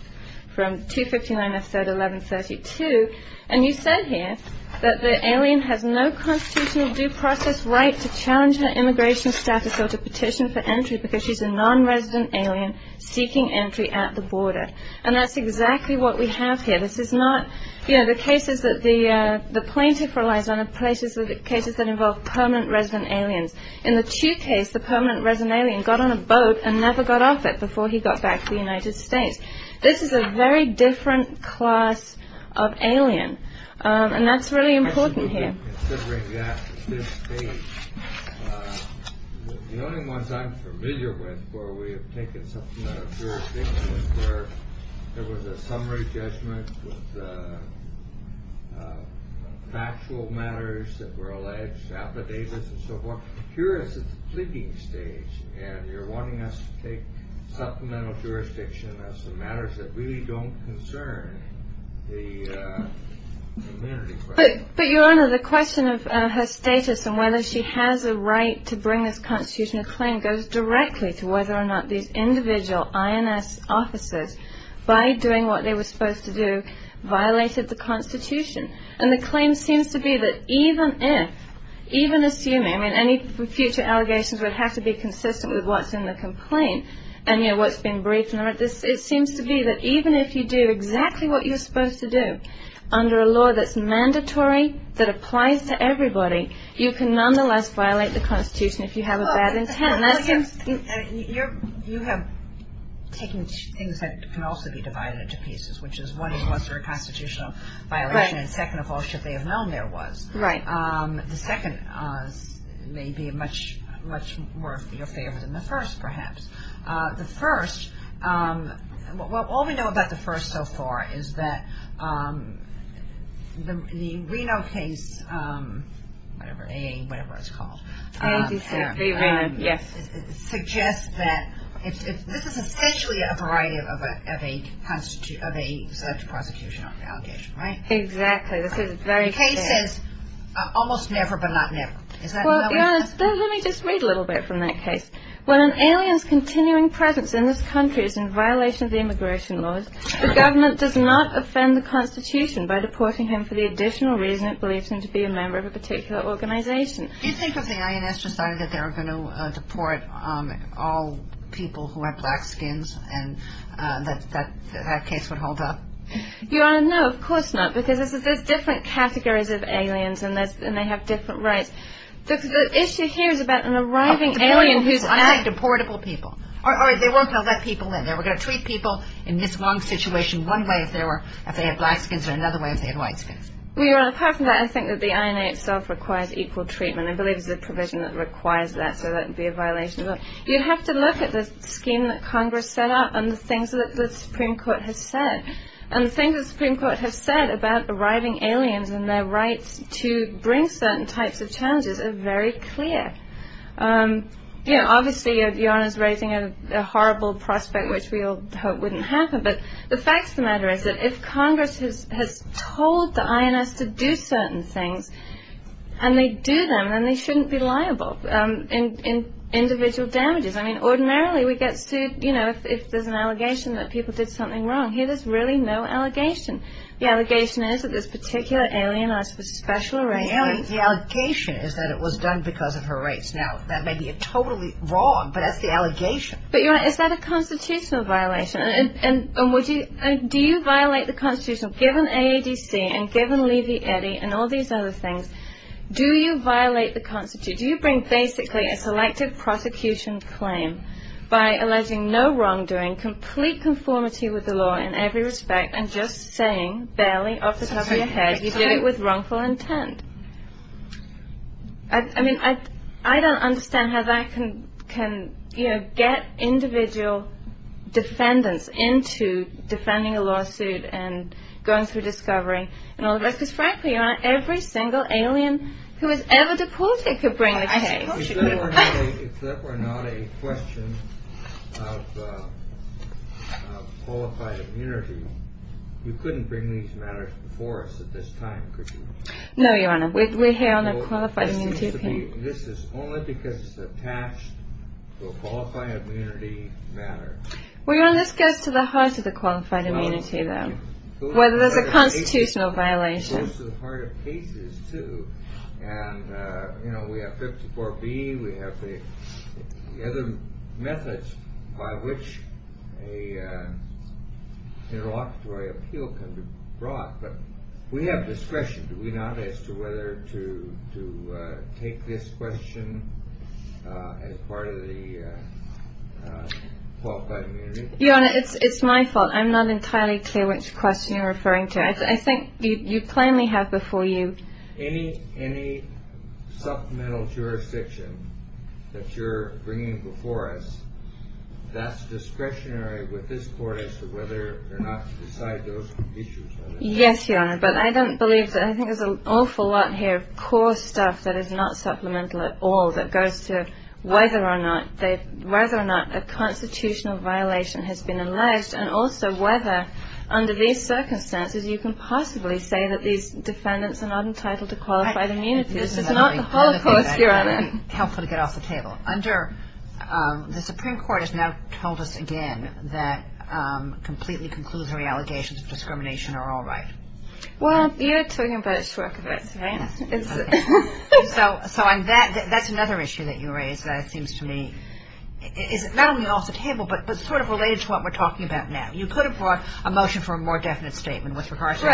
259, I said, 1132. And you said here that the alien has no constitutional due process right to challenge her immigration status or to petition for entry because she's a non-resident alien seeking entry at the border. And that's exactly what we have here. This is not... You know, the cases that the plaintiff relies on are cases that involve permanent resident aliens. In the Chu case, the permanent resident alien got on a boat and never got off it before he got back to the United States. This is a very different class of alien. And that's really important here. Considering that at this stage, the only ones I'm familiar with where we have taken some sort of jurisdiction is where there was a summary judgment with factual matters that were alleged, affidavits and so forth. Here it's at the thinking stage, and you're wanting us to take supplemental jurisdiction as to matters that really don't concern the community. But, Your Honor, the question of her status and whether she has a right to bring this constitutional claim goes directly to whether or not these individual INS officers, by doing what they were supposed to do, violated the Constitution. And the claim seems to be that even if, even assuming, and any future allegations would have to be consistent with what's in the complaint, and, you know, what's been briefed, it seems to be that even if you do exactly what you're supposed to do under a law that's mandatory, that applies to everybody, you can nonetheless violate the Constitution if you have a bad intent. You have taken things that can also be divided into pieces, which is one is what sort of constitutional violation and technical should they have known there was. Right. The second may be much more in your favor than the first, perhaps. The first, well, all we know about the first so far is that the Reno case, whatever it's called, suggests that this is essentially a variety of a constitutional violation, right? Exactly. The case is almost never, but not never. Let me just read a little bit from that case. Well, an alien's continuing presence in this country is in violation of the immigration laws. The government does not offend the Constitution by deporting him for the additional reason it believes him to be a member of a particular organization. Do you think that the INS decided that they were going to deport all people who have black skins and that that case would hold up? No, of course not, because this is a different category of aliens and they have different rights. Because the issue here is about an arriving alien who's arrived. Deportable people. Or they weren't going to let people in. They were going to treat people in this one situation one way if they had black skins and another way if they had white skins. When you're talking about it, I think that the INA itself requires equal treatment. I believe it's a provision that requires that, so that would be a violation of the law. You'd have to look at the scheme that Congress set up and the things that the Supreme Court has said. And the things that the Supreme Court has said about arriving aliens and their right to bring certain types of challenges is very clear. Obviously, you're raising a horrible prospect, which we all hope wouldn't happen, but the fact of the matter is that if Congress has told the INS to do certain things, and they do them, then they shouldn't be liable in individual damages. I mean, ordinarily, we get sued, you know, if there's an allegation that people did something wrong. Here, there's really no allegation. The allegation is that this particular alien asked for special arrangements. The allegation is that it was done because of her rights. Now, that may be totally wrong, but that's the allegation. But, you know, is that a constitutional violation? And do you violate the constitution? Given AADC and given Lizzie Eddy and all these other things, do you violate the constitution? You bring basically a selective prosecution claim by alleging no wrongdoing, complete conformity with the law in every respect, and just saying, barely, off the top of your head, you did it with wrongful intent. I mean, I don't understand how that can, you know, get individual defendants into defending a lawsuit and going through discovery and all of that, because, frankly, we're here on every single alien who was ever deported to bring the case. If that were not a question of qualified immunity, you couldn't bring these matters before us at this time, could you? No, Your Honor. We're here on a qualified immunity case. This is only because it's attached to a qualified immunity matter. Well, Your Honor, let's get to the heart of the qualified immunity, then, whether it's a constitutional violation. It's a part of cases, too. And, you know, we have 54B, we have the other methods by which an officiary appeal can be brought. But we have discretion, do we not, as to whether to take this question as part of the qualified immunity? Your Honor, it's my fault. I'm not entirely clear which question you're referring to. I think you plainly have before you. Any supplemental jurisdiction that you're bringing before us, that's discretionary with this court as to whether or not to decide those issues. Yes, Your Honor, but I don't believe that. I think there's an awful lot here of core stuff that is not supplemental at all, that goes to whether or not a constitutional violation has been alleged, and also whether, under these circumstances, you can possibly say that these defendants are not entitled to qualified immunity. This is not the whole court, Your Honor. It's helpful to get off the table. Under, the Supreme Court has now told us again that completely conclusive allegations of discrimination are all right. Well, you're putting them both short of it. So, that's another issue that you raised that seems to me, is not only off the table, but sort of related to what we're talking about now. You put forth a motion for a more definite statement with regards to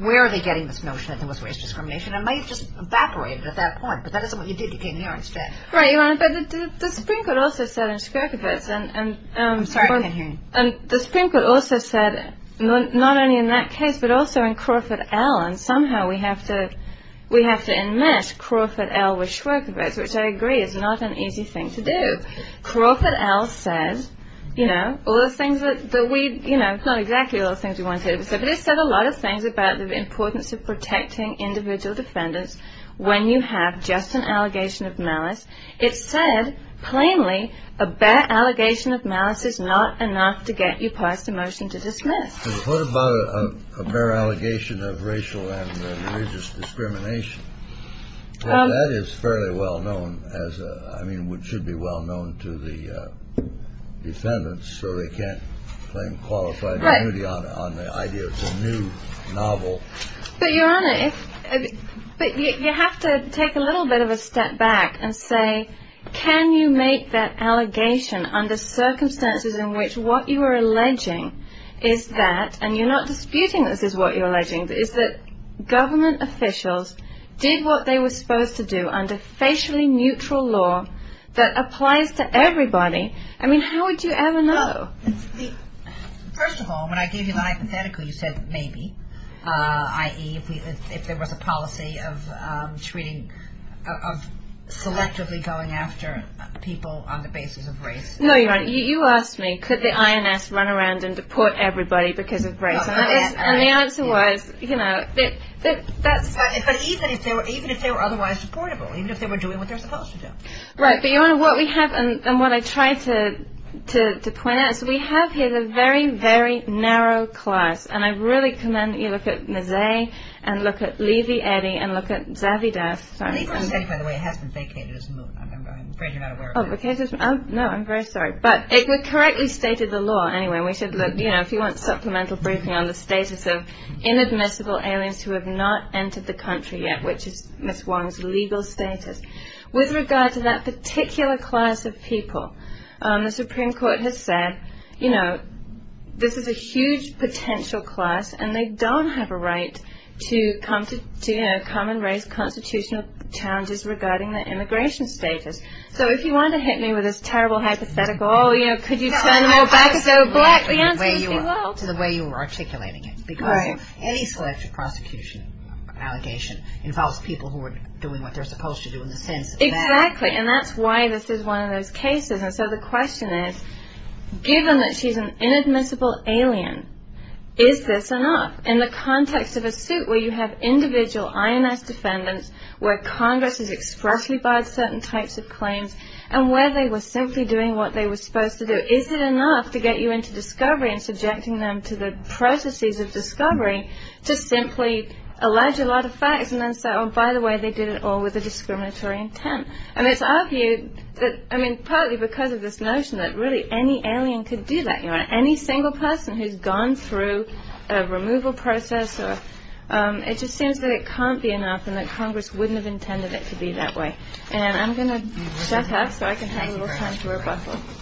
where are we getting this notion that there was racial discrimination. It might have just evaporated at that point, but that isn't what you did. You came here instead. Right, Your Honor, but the Supreme Court also said in Shkorpovitz, and the Supreme Court also said, not only in that case, but also in Crawford L., and somehow we have to admit Crawford L. was Shkorpovitz, which I agree is not an easy thing to do. Crawford L. said, you know, all the things that we, you know, it's not exactly all the things we wanted, but it said a lot of things about the importance of protecting individual defendants when you have just an allegation of malice. It said, plainly, a bare allegation of malice is not enough to get you past the motion to dismiss. What about a bare allegation of racial and religious discrimination? That is fairly well known as a, I mean, it should be well known to the defendants, or they can't claim qualified immunity on the idea of the new novel. But, Your Honor, you have to take a little bit of a step back and say, can you make that allegation under circumstances in which what you are alleging is that, and you're not disputing this is what you're alleging, is that government officials did what they were supposed to do under socially neutral law that applies to everybody. I mean, how would you ever know? First of all, when I gave you the hypothetical, you said, maybe. I.e., if there was a policy of treating, of selectively going after people on the basis of race. No, Your Honor. You asked me, could the INS run around and deport everybody because of race? And the answer was, you know. But even if they were otherwise supportable, even if they were doing what they're supposed to do. Right. But, Your Honor, what we have, and what I tried to point out, is we have here the very, very narrow class. And I really commend that you look at Mazzei and look at Lizzie Eddy and look at Zazie Das. By the way, it hasn't vacated its movement. I'm afraid you're not aware of that. No, I'm very sorry. But it correctly stated the law anyway. We should look, you know, if you want supplemental briefing on the status of inadmissible aliens who have not entered the country yet, which is Ms. Wong's legal status. With regard to that particular class of people, the Supreme Court has said, you know, this is a huge potential class, and they don't have a right to come and raise constitutional challenges regarding their immigration status. So if you want to hit me with this terrible hypothetical, oh, you know, could you send them all back if they were black, the answer would be no. To the way you were articulating it. Right. Because any selective prosecution allegation involves people who are doing what they're supposed to do in the sentence. Exactly. And that's why this is one of those cases. And so the question is, given that she's an inadmissible alien, is this enough? In the context of a suit where you have individual INS defendants where Congress has expressly barred certain types of claims and where they were simply doing what they were supposed to do, is it enough to get you into discovery and subjecting them to the processes of discovery to simply allege a lot of facts and then say, oh, by the way, they did it all with a discriminatory intent? And it's argued that, I mean, partly because of this notion that really any alien could do that. You know, any single person who's gone through a removal process, it just seems that it can't be enough and that Congress wouldn't have intended it to be that way. And I'm going to step up so I can have a little time to reflect on this.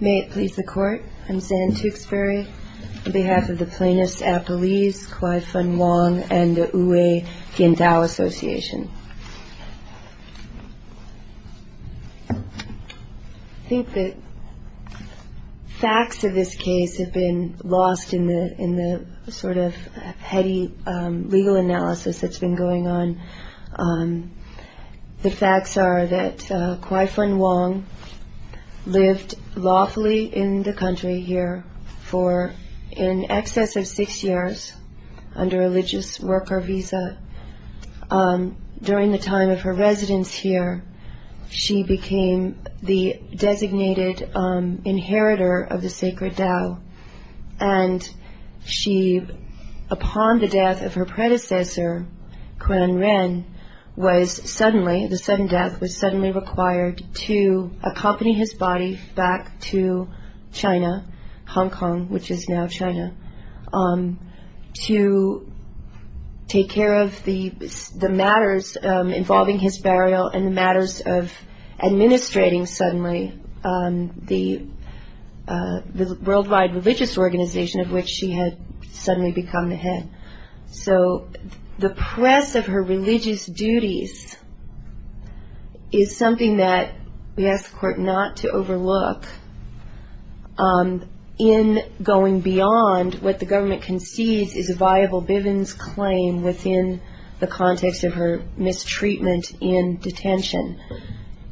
May it please the Court, I'm Dan Tewksbury, on behalf of the plaintiffs, Apple Reed, Kwai Fun Wong, and the Uwe Gendau Association. I think the facts of this case have been lost in the sort of heady legal analysis that's been going on. The facts are that Kwai Fun Wong lived lawfully in the country here for in excess of six years under a religious worker visa. During the time of her residence here, she became the designated inheritor of the sacred Tao. And she, upon the death of her predecessor, Kwan Ren, was suddenly, the sudden death, was suddenly required to accompany his body back to China, Hong Kong, which is now China, to take care of the matters involving his burial and the matters of administrating, suddenly, the worldwide religious organization of which she had suddenly become the head. So the press of her religious duties is something that we ask the Court not to overlook. In going beyond what the government concedes is a viable Bivens claim within the context of her mistreatment in detention.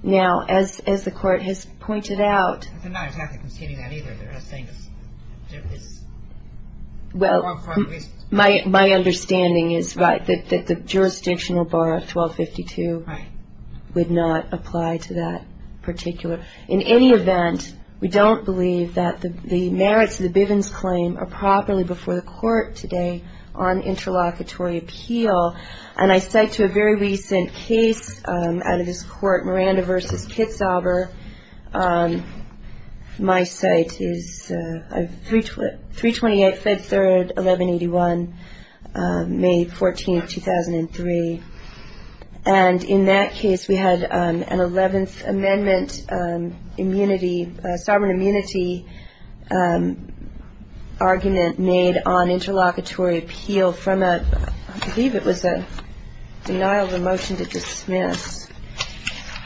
Now, as the Court has pointed out... I'm not exactly conceding that either, but I think... Well, my understanding is that the jurisdictional bar of 1252 would not apply to that particular. In any event, we don't believe that the merits of the Bivens claim are properly before the Court today on interlocutory appeal. And I cite to a very recent case out of this Court, Miranda v. Kitzhaber. My site is 328 Fed Third, 1181, May 14, 2003. And in that case, we had an Eleventh Amendment sovereign immunity argument made on interlocutory appeal from a, I believe it was a denial of a motion to dismiss.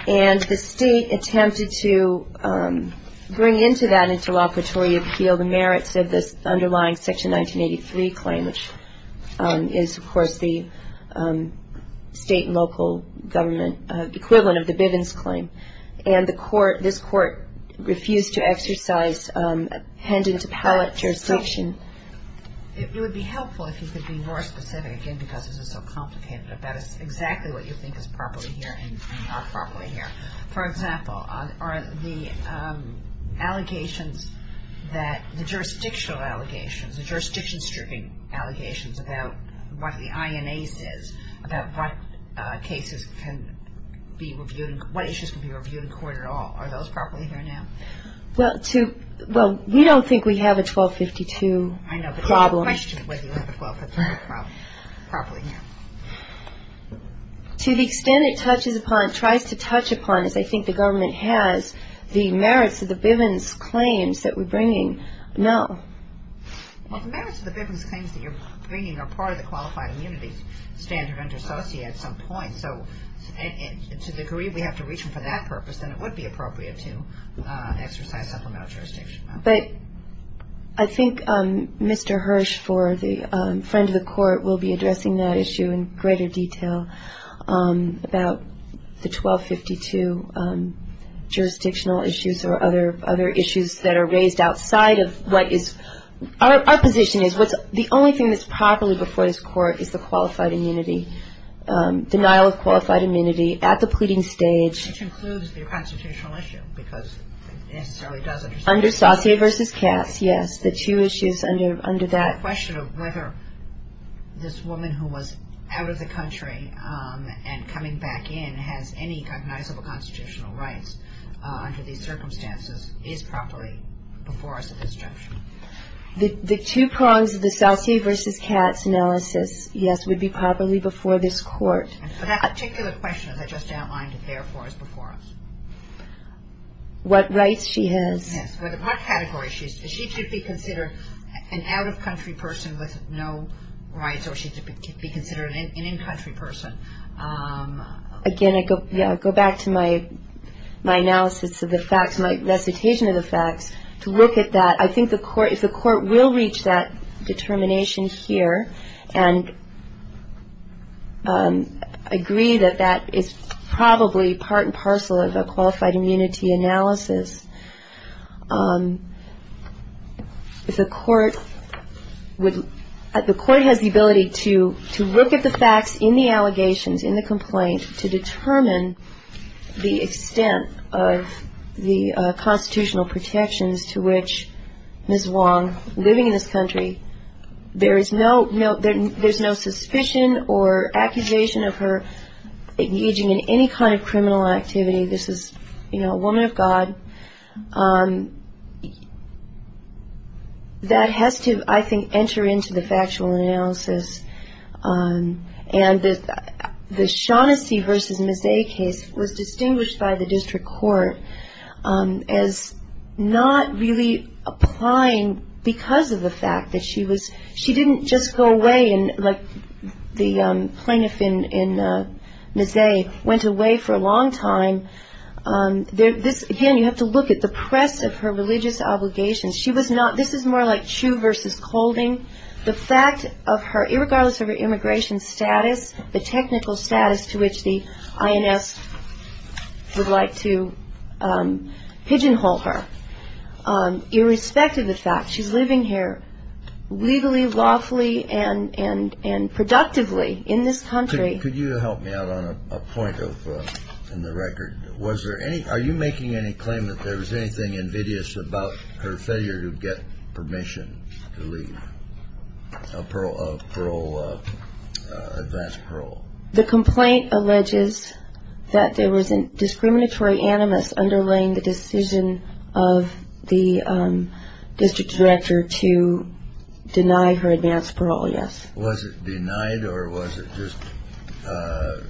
And the State attempted to bring into that interlocutory appeal the merits of the underlying Section 1983 claim, which is, of course, the state and local government equivalent of the Bivens claim. And the Court, this Court, refused to exercise pendent pallet jurisdiction. It would be helpful if you could be more specific, again, because this is so complicated, but that is exactly what you think is properly here and not properly here. For example, are the allegations that the jurisdictional allegations, the jurisdiction-stripping allegations about what the INA says, about what cases can be reviewed, what issues can be reviewed in court at all, are those properly here now? Well, we don't think we have a 1252 problem. I know, but I questioned whether you have a 1252 problem. To the extent it touches upon, tries to touch upon, if they think the government has, the merits of the Bivens claims that we're bringing, no. Well, the merits of the Bivens claims that you're bringing are part of the Qualified Immunity Standard under SOCIA at some point, so to the degree we have to reach them for that purpose, then it would be appropriate to exercise that level of jurisdiction. But I think Mr. Hirsch for the Friend of the Court will be addressing that issue in greater detail, about the 1252 jurisdictional issues or other issues that are raised outside of what is, our position is the only thing that's properly before this Court is the Qualified Immunity, denial of Qualified Immunity at the pleading stage. Which includes the constitutional issue, because it necessarily does. Under SOCIA v. CATS, yes, the two issues under that. The question of whether this woman who was out of the country and coming back in has any cognizable constitutional rights under these circumstances is properly before us at this juncture. The two prongs of the SOCIA v. CATS analysis, yes, would be properly before this Court. And so that particular question that I just outlined therefore is before us. What rights she has. Yes, what category she's in. She could be considered an out-of-country person with no rights, or she could be considered an in-country person. Again, I go back to my analysis of the facts, my recitation of the facts, to look at that. I think the Court, if the Court will reach that determination here, and agree that that is probably part and parcel of a Qualified Immunity analysis, the Court has the ability to look at the facts in the allegations, in the complaints, to determine the extent of the constitutional protections to which Ms. Wong, living in this country, there is no suspicion or accusation of her engaging in any kind of criminal activity. This is, you know, a woman of God. That has to, I think, enter into the factual analysis. And the Shaughnessy v. Mazet case was distinguished by the District Court as not really applying because of the fact that she was, she didn't just go away and, like the plaintiff in Mazet, went away for a long time. Again, you have to look at the press of her religious obligations. She was not, this is more like Chu v. Holdings. The fact of her, irregardless of her immigration status, the technical status to which the INS would like to pigeonhole her, irrespective of the fact she's living here legally, lawfully, and productively in this country. Could you help me out on a point in the record? Was there any, are you making any claim that there was anything invidious about her failure to get permission to leave? A parole, a parole, advanced parole? The complaint alleges that there was a discriminatory animus underlying the decision of the district director to deny her advanced parole, yes. Was it denied or was it just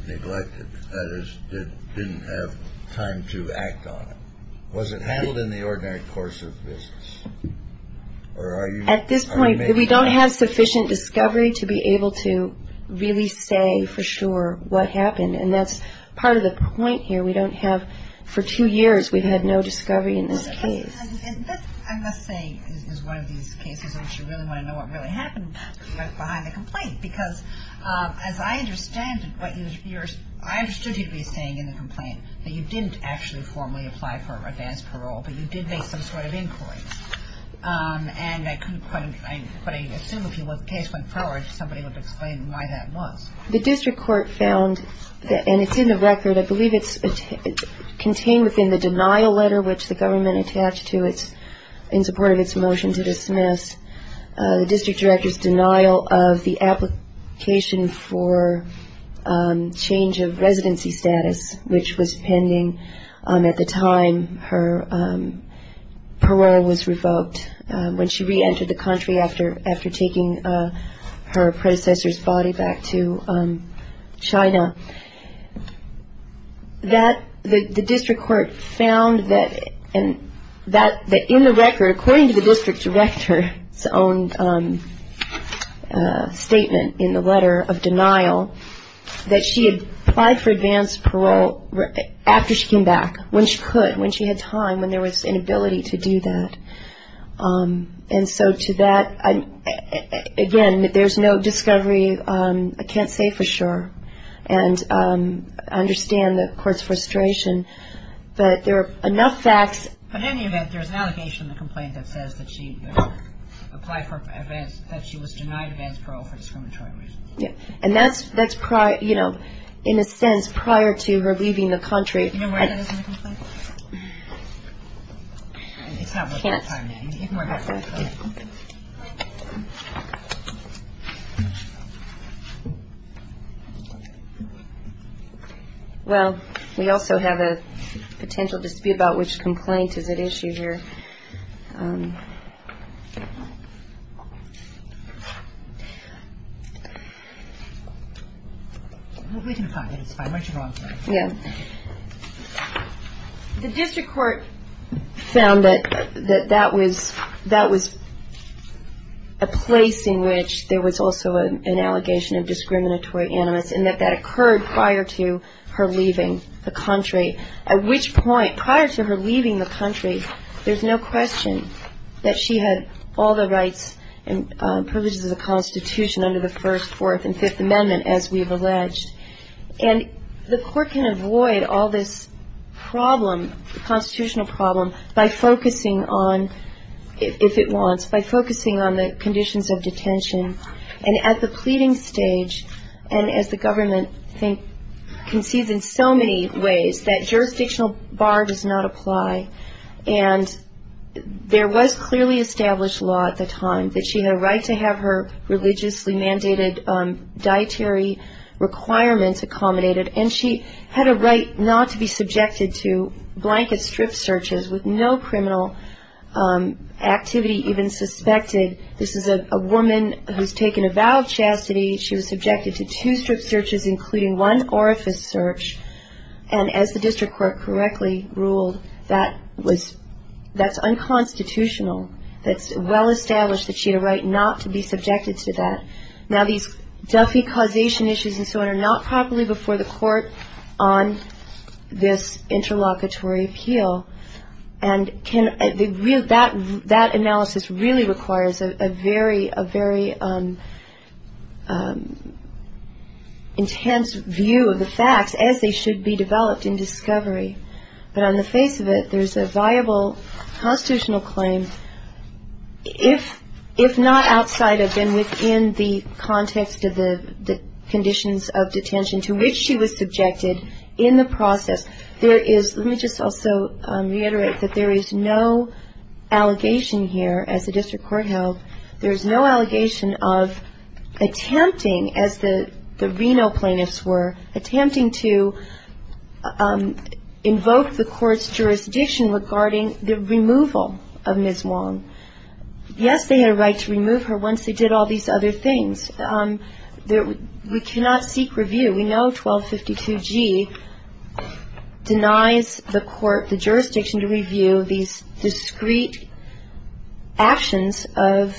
neglected? That is, didn't have time to act on it? Was it handled in the ordinary course of business? At this point, we don't have sufficient discovery to be able to really say for sure what happened. And that's part of the point here. We don't have, for two years, we've had no discovery in this case. And that, I must say, is one of these cases in which you really want to know what really happened behind the complaint. Because, as I understand it, what you're, I understood you'd be saying in the complaint that you didn't actually formally apply for advanced parole, but you did make some sort of inquiry. And I can't quite, but I assume if you look case-by-case, somebody would explain why that was. The district court found, and it's in the record, I believe it's contained within the denial letter, which the government attached to it in support of its motion to dismiss, the district director's denial of the application for change of residency status, which was pending at the time her parole was revoked, when she re-entered the country after taking her predecessor's body back to China. The district court found that in the record, according to the district director's own statement in the letter of denial, that she had applied for advanced parole after she came back, when she could, when she had time, when there was an ability to do that. And so to that, again, there's no discovery. I can't say for sure. And I understand the court's frustration. But there are enough facts. But then you have, there's an allegation in the complaint that says that she applied for advanced, that she was denied advanced parole for discriminatory reasons. And that's prior, you know, in a sense, prior to her leaving the country. Do you know where that is in the complaint? Well, we also have a potential dispute about which complaint is at issue here. The district court found that that was, that was a place in which there was also an allegation of discriminatory that she had all the rights and privileges of the Constitution under the First, Fourth, and Fifth Amendment, as we've alleged. And the court can avoid all this problem, constitutional problem, by focusing on, if it wants, by focusing on the conditions of detention. And at the pleading stage, and as the government concedes in so many ways, that jurisdictional bar does not apply. And there was clearly established law at the time that she had a right to have her religiously mandated dietary requirements accommodated. And she had a right not to be subjected to blanket strip searches with no criminal activity even suspected. This is a woman who's taken a vow of chastity. She was subjected to two strip searches, including one orifice search. And as the district court correctly ruled, that was, that's unconstitutional. It's well established that she had a right not to be subjected to that. Now, these Duffy causation issues and so on are not properly before the court on this interlocutory appeal. And that analysis really requires a very intense view of the facts as they should be developed in discovery. But on the face of it, there's a viable constitutional claim. If not outside of and within the context of the conditions of detention to which she was subjected in the process, there is, let me just also reiterate that there is no allegation here at the district courthouse, there is no allegation of attempting, as the Reno plaintiffs were, attempting to invoke the court's jurisdiction regarding the removal of Ms. Wong. Yet they had a right to remove her once they did all these other things. We cannot seek review. We know 1252G denies the court the jurisdiction to review these discreet actions of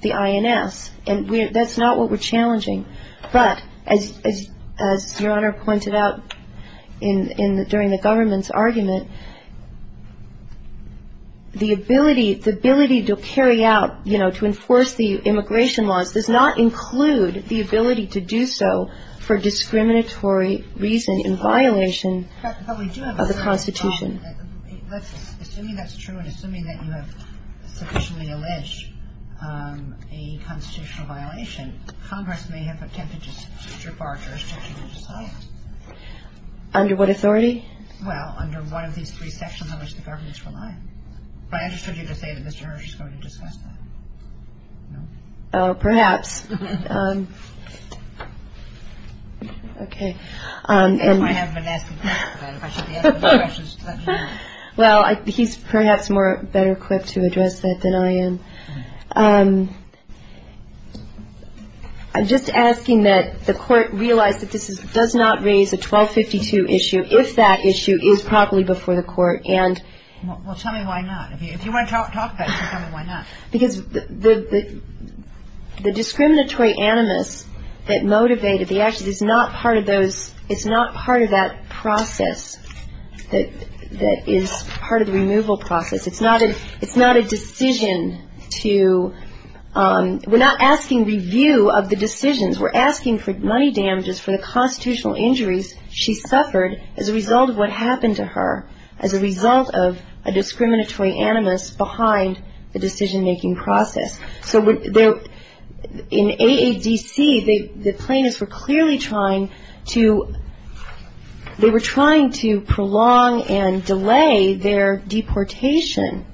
the INS. And that's not what we're challenging. But as Your Honor pointed out during the government's argument, the ability to carry out, you know, to enforce the immigration laws does not include the ability to do so for discriminatory reason in violation of the Constitution. Under what authority? But I understood you to say that Mr. Hersh is going to discuss that. No? Oh, perhaps. Okay. Well, he's perhaps more better equipped to address that than I am. I'm just asking that the court realize that this does not raise the 1252 issue, if that issue is properly before the court. Well, tell me why not. If you want to talk about it, tell me why not. Because the discriminatory animus that motivated the actions is not part of those, it's not part of that process that is part of the removal process. It's not a decision to, we're not asking review of the decisions. We're asking for money damages for the constitutional injuries she suffered as a result of what happened to her, as a result of a discriminatory animus behind the decision-making process. So, in AADC, the plaintiffs were clearly trying to, they were trying to prolong and delay their deportation,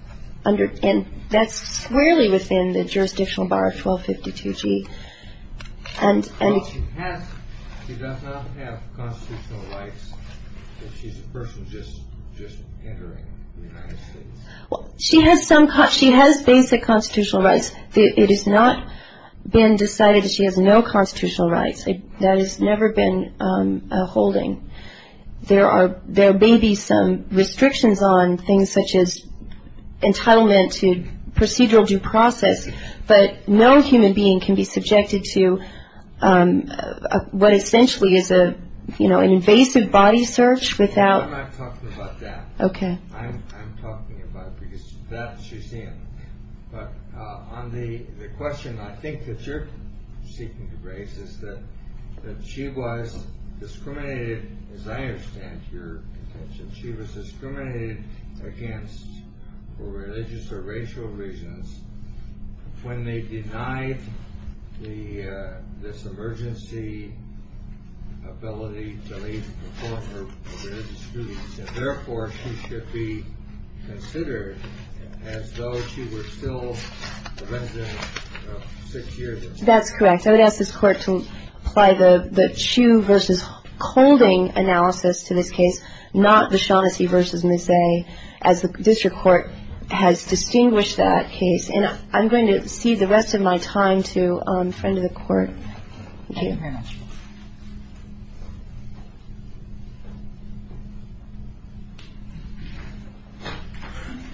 and that's squarely within the jurisdictional bar of 1252G. Well, she does not have constitutional rights. She's a person just entering the country. She has basic constitutional rights. It has not been decided that she has no constitutional rights. That has never been a holding. There may be some restrictions on things such as entitlement to procedural due process, but no human being can be subjected to what essentially is an invasive body search without... I'm not talking about that. Okay. I'm talking about that she's in. But on the question I think that you're seeking to raise is that she was discriminated, as I understand your intention, she was discriminated against for religious or racial reasons when they denied this emergency ability to leave the court for various reasons. Therefore, she should be considered as though she was still a resident of six years. That's correct. So I would ask this court to apply the Chu versus Holding analysis to this case, not the Shaughnessy versus Mizey, as the district court has distinguished that case. And I'm going to cede the rest of my time to a friend of the court. Thank you very much. Thank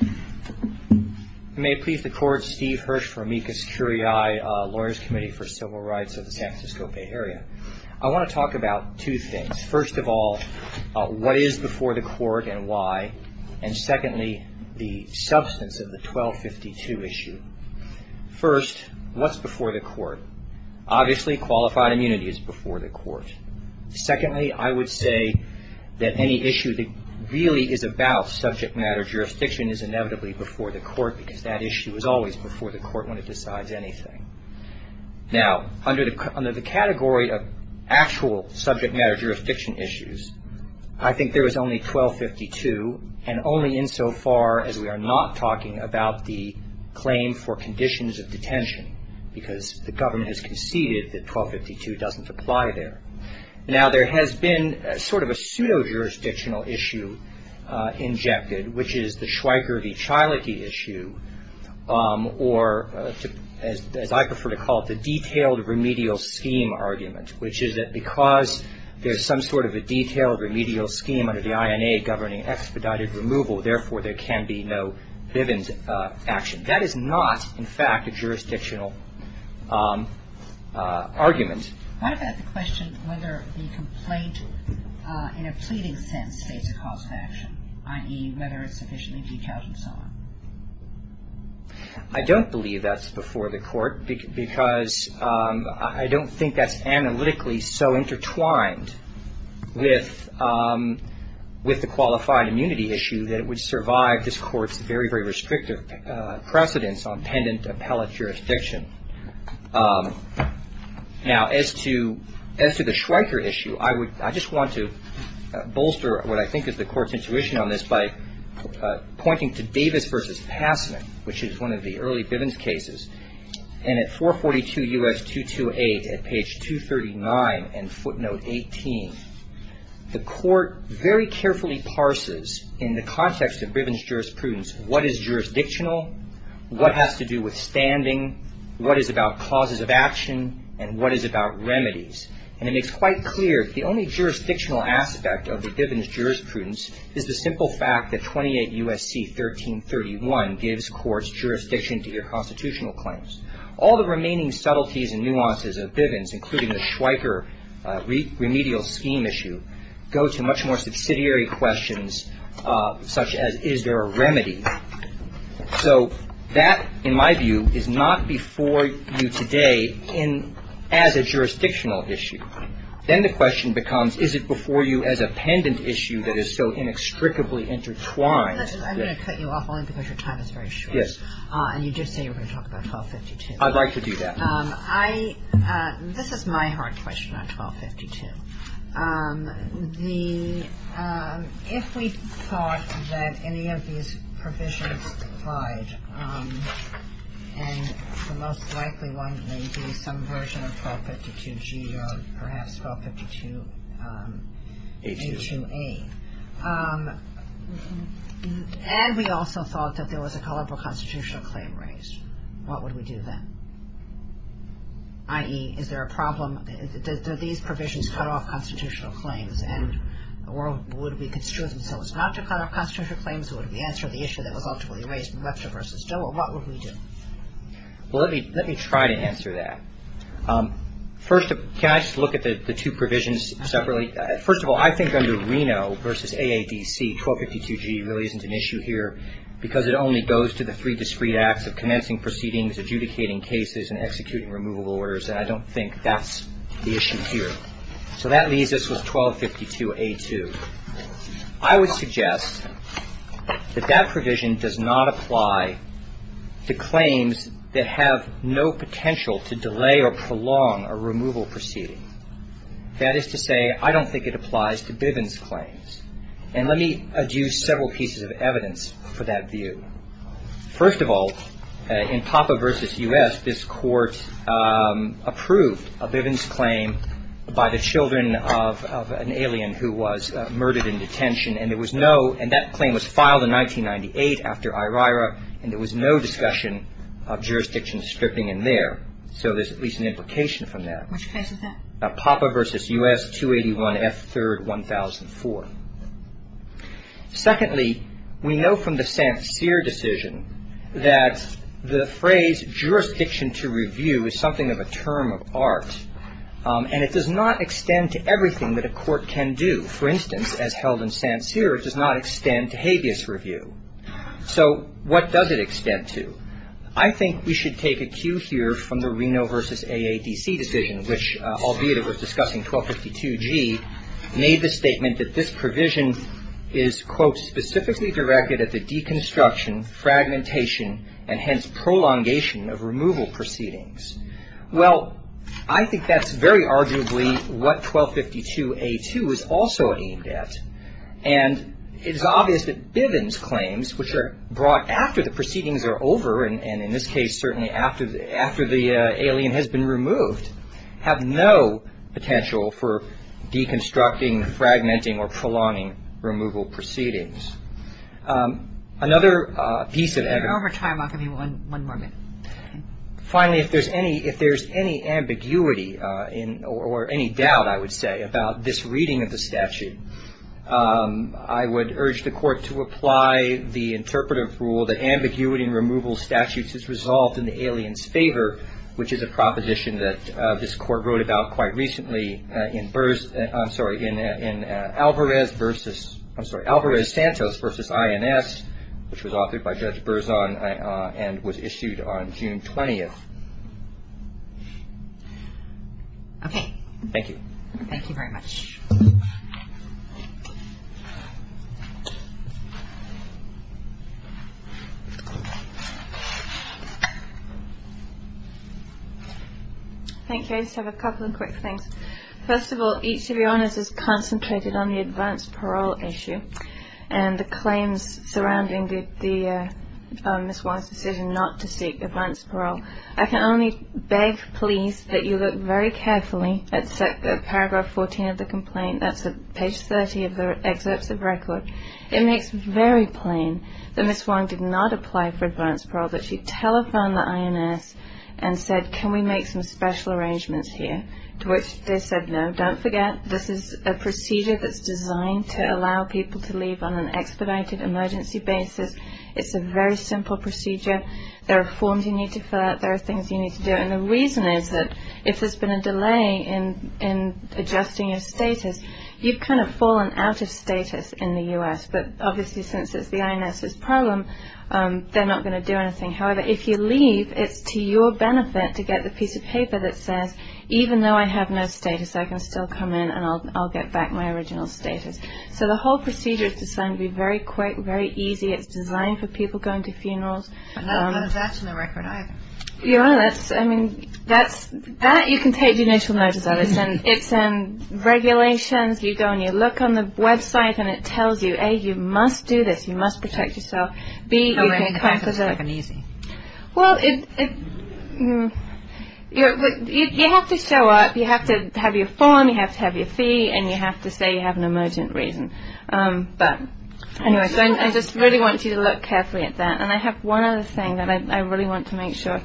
you. May it please the court, Steve Hirsch from MECA-SecurEI, Lawyers Committee for Civil Rights of the Kansas County area. I want to talk about two things. First of all, what is before the court and why, and secondly, the substance of the 1252 issue. First, what's before the court? Obviously, qualified immunity is before the court. Secondly, I would say that any issue that really is about subject matter jurisdiction is inevitably before the court because that issue is always before the court when it decides anything. Now, under the category of actual subject matter jurisdiction issues, I think there is only 1252 and only insofar as we are not talking about the claim for conditions of detention because the government has conceded that 1252 doesn't apply there. Now, there has been sort of a pseudo-jurisdictional issue injected, which is the Schweiger v. Chalke issue or, as I prefer to call it, the detailed remedial scheme argument, which is that because there's some sort of a detailed remedial scheme under the INA governing expedited removal, therefore, there can be no Bivens action. That is not, in fact, a jurisdictional argument. I don't believe that's before the court because I don't think that's analytically so intertwined with the qualified immunity issue that it would survive this court's very, very restrictive precedence on pendent appellate jurisdiction. Now, as to the Schweiger issue, I just want to bolster what I think is the court's intuition on this by pointing to Davis v. Passman, which is one of the early Bivens cases. And at 442 U.S. 228 at page 239 and footnote 18, the court very carefully parses in the context of Bivens jurisprudence what is jurisdictional, what has to do with standing, what is about causes of action, and what is about remedies. And it makes quite clear that the only jurisdictional aspect of the Bivens jurisprudence is the simple fact that 28 U.S.C. 1331 gives courts jurisdiction to their constitutional claims. All the remaining subtleties and nuances of Bivens, including the Schweiger remedial scheme issue, go to much more subsidiary questions such as, is there a remedy? So that, in my view, is not before you today as a jurisdictional issue. Then the question becomes, is it before you as a pendant issue that is so inextricably intertwined? I'm going to cut you off because your time is very short. Yes. And you just said you were going to talk about 1252. I'd like to do that. This is my hard question on 1252. If we thought that any of these provisions applied, and the most likely one may be some version of 1252-G or perhaps 1252-H2-A, and we also thought that there was a culpable constitutional claim raised, what would we do then? I.e., is there a problem? Do these provisions cut off constitutional claims? And would it be construed as opposed not to cut off constitutional claims, or would it be answered on the issue that was ultimately raised in Lefter v. Dole? What would we do? Well, let me try to answer that. First, can I just look at the two provisions separately? First of all, I think under Reno v. AABC, 1252-G really isn't an issue here because it only goes to the three discrete acts of connecting proceedings, adjudicating cases, and executing removal orders. And I don't think that's the issue here. So that leaves us with 1252-A2. I would suggest that that provision does not apply to claims that have no potential to delay or prolong a removal proceeding. That is to say, I don't think it applies to Bivens claims. And let me adduce several pieces of evidence for that view. First of all, in Papa v. U.S., this Court approved a Bivens claim by the children of an alien who was murdered in detention, and that claim was filed in 1998 after IRIRA, and there was no discussion of jurisdiction stripping in there. So there's at least an implication from that. Which case is that? Papa v. U.S., 281 F. 3rd, 1004. Secondly, we know from the Stantzer decision that the phrase jurisdiction to review is something of a term of art, and it does not extend to everything that a court can do. For instance, as held in Stantzer, it does not extend to habeas review. So what does it extend to? I think we should take a cue here from the Reno v. AADC decision, which albeit it was discussing 1252G, made the statement that this provision is, quote, Well, I think that's very arguably what 1252A2 is also aimed at. And it's obvious that Bivens claims, which are brought after the proceedings are over, and in this case certainly after the alien has been removed, have no potential for deconstructing, fragmenting, or prolonging removal proceedings. Another piece of evidence... Over time, I'll give you one more minute. Finally, if there's any ambiguity or any doubt, I would say, about this reading of the statute, I would urge the court to apply the interpretive rule that ambiguity in removal statutes is resolved in the alien's favor, which is a proposition that this court wrote about quite recently in Alvarez-Santos v. INS, which was authored by Judge Berzon and was issued on June 20th. Okay. Thank you. Thank you very much. Thanks, James. I have a couple of quick things. First of all, each of your honors is concentrated on the advanced parole issue and the claims surrounding Ms. Wong's decision not to seek advanced parole. I can only beg, please, that you look very carefully at paragraph 14 of the complaint. That's page 30 of the excerpt of the record. It makes very plain that Ms. Wong did not apply for advanced parole, but she telethoned the INS and said, can we make some special arrangements here? To which they said, no. Don't forget, this is a procedure that's designed to allow people to leave on an expedited emergency basis. It's a very simple procedure. There are forms you need to fill out. There are things you need to do, and the reason is that if there's been a delay in adjusting your status, you've kind of fallen out of status in the U.S., but obviously since it's the INS's problem, they're not going to do anything. However, if you leave, it's to your benefit to get the piece of paper that says, even though I have no status, I can still come in and I'll get back my original status. So the whole procedure is designed to be very quick, very easy. It's designed for people going to funerals. And that's in the record, either. Yeah, that's, I mean, that you can take the initial notice of. It's in regulations. You go and you look on the website, and it tells you, A, you must do this. You must protect yourself. B, you can't do this. Well, you have to show up. You have to have your form. You have to have your fee, and you have to say you have an emergent reason. But anyway, so I just really want you to look carefully at that. And I have one other thing that I really want to make sure.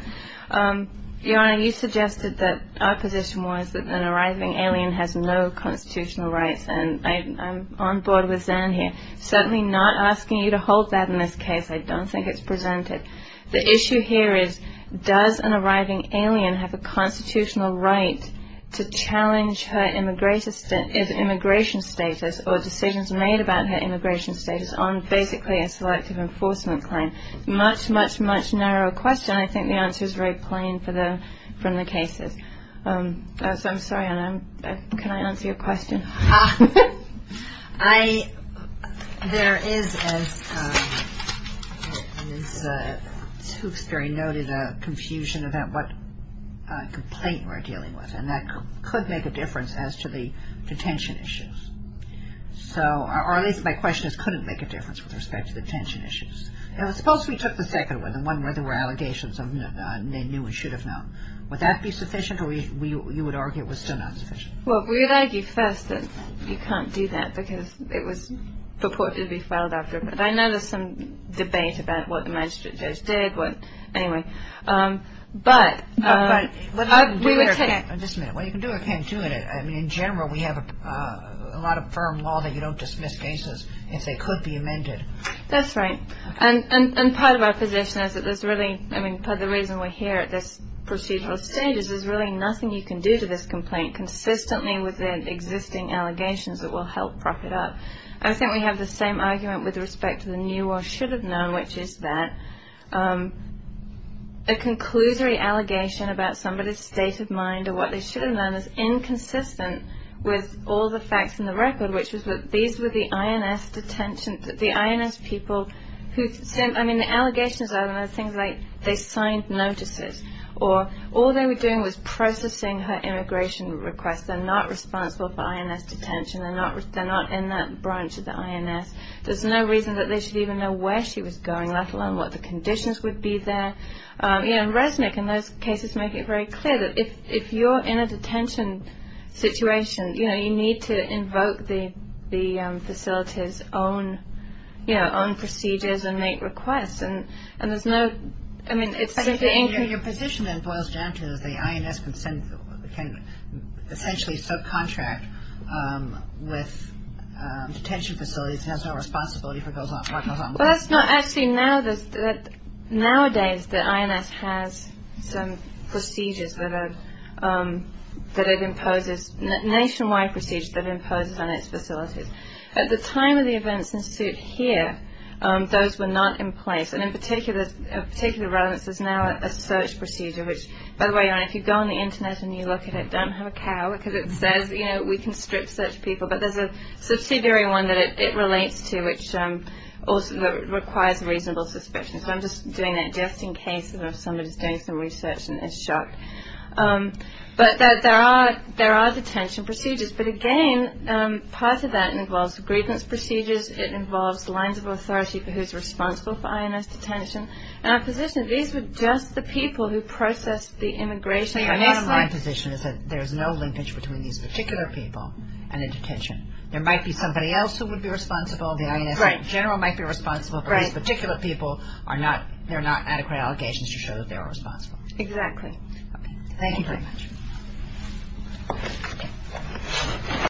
Your Honor, you suggested that our position was that an arising alien has no constitutional rights, and I'm on board with them here. I'm certainly not asking you to hold that in this case. I don't think it's presented. The issue here is, does an arising alien have a constitutional right to challenge her immigration status or decisions made about her immigration status on basically a selective enforcement claim? Much, much, much narrower question. I think the answer is very plain from the cases. So I'm sorry, Honor. Can I answer your question? I, there is, as the spooks very noted, a confusion about what complaint we're dealing with, and that could make a difference as to the detention issues. So, or at least my question is, could it make a difference with respect to detention issues? And suppose we took the second one, the one where there were allegations and they knew and should have known. Would that be sufficient, or you would argue it was still not sufficient? Well, we would argue first that you can't do that because it was purportedly filed after. I know there's some debate about what the magistrate does there, but anyway. But we would take- Just a minute. Well, you can do it with him too. I mean, in general, we have a lot of firm law that you don't dismiss cases if they could be amended. That's right. And part of our position is that there's really, I mean, part of the reason we're here at this procedural stage is there's really nothing you can do to this complaint consistently with the existing allegations that will help prop it up. I think we have the same argument with respect to the knew or should have known, which is that a conclusory allegation about somebody's state of mind or what they should have known is inconsistent with all the facts in the record, which is that these were the INS detentions, the INS people who, I mean, the allegations are things like they signed notices or all they were doing was processing her immigration request. They're not responsible for INS detention. They're not in that branch of the INS. There's no reason that they should even know where she was going, let alone what the conditions would be there. And ResNIC in those cases make it very clear that if you're in a detention situation, you need to invoke the facility's own procedures and make requests. And there's no, I mean, it's very clear. Your position boils down to the INS can essentially subcontract with detention facilities and has no responsibility for those on board. Well, that's not actually, nowadays the INS has some procedures that it imposes, nationwide procedures that it imposes on its facilities. At the time of the events in suit here, those were not in place. And in particular relevance is now a search procedure, which, by the way, if you go on the Internet and you look at it, don't have a cow, because it says, you know, we can strip search people, but there's a subsidiary one that it relates to which requires reasonable suspicion. So I'm just doing that just in case somebody's doing some research and is shocked. But there are detention procedures. But, again, part of that involves grievance procedures. It involves the lines of authority for who's responsible for INS detention. And our position is these are just the people who process the immigration. My position is that there's no linkage between these particular people and the detention. There might be somebody else who would be responsible. The INS general might be responsible for these particular people. They're not adequate allegations to show that they're responsible. Exactly. Thank you very much. Thank you.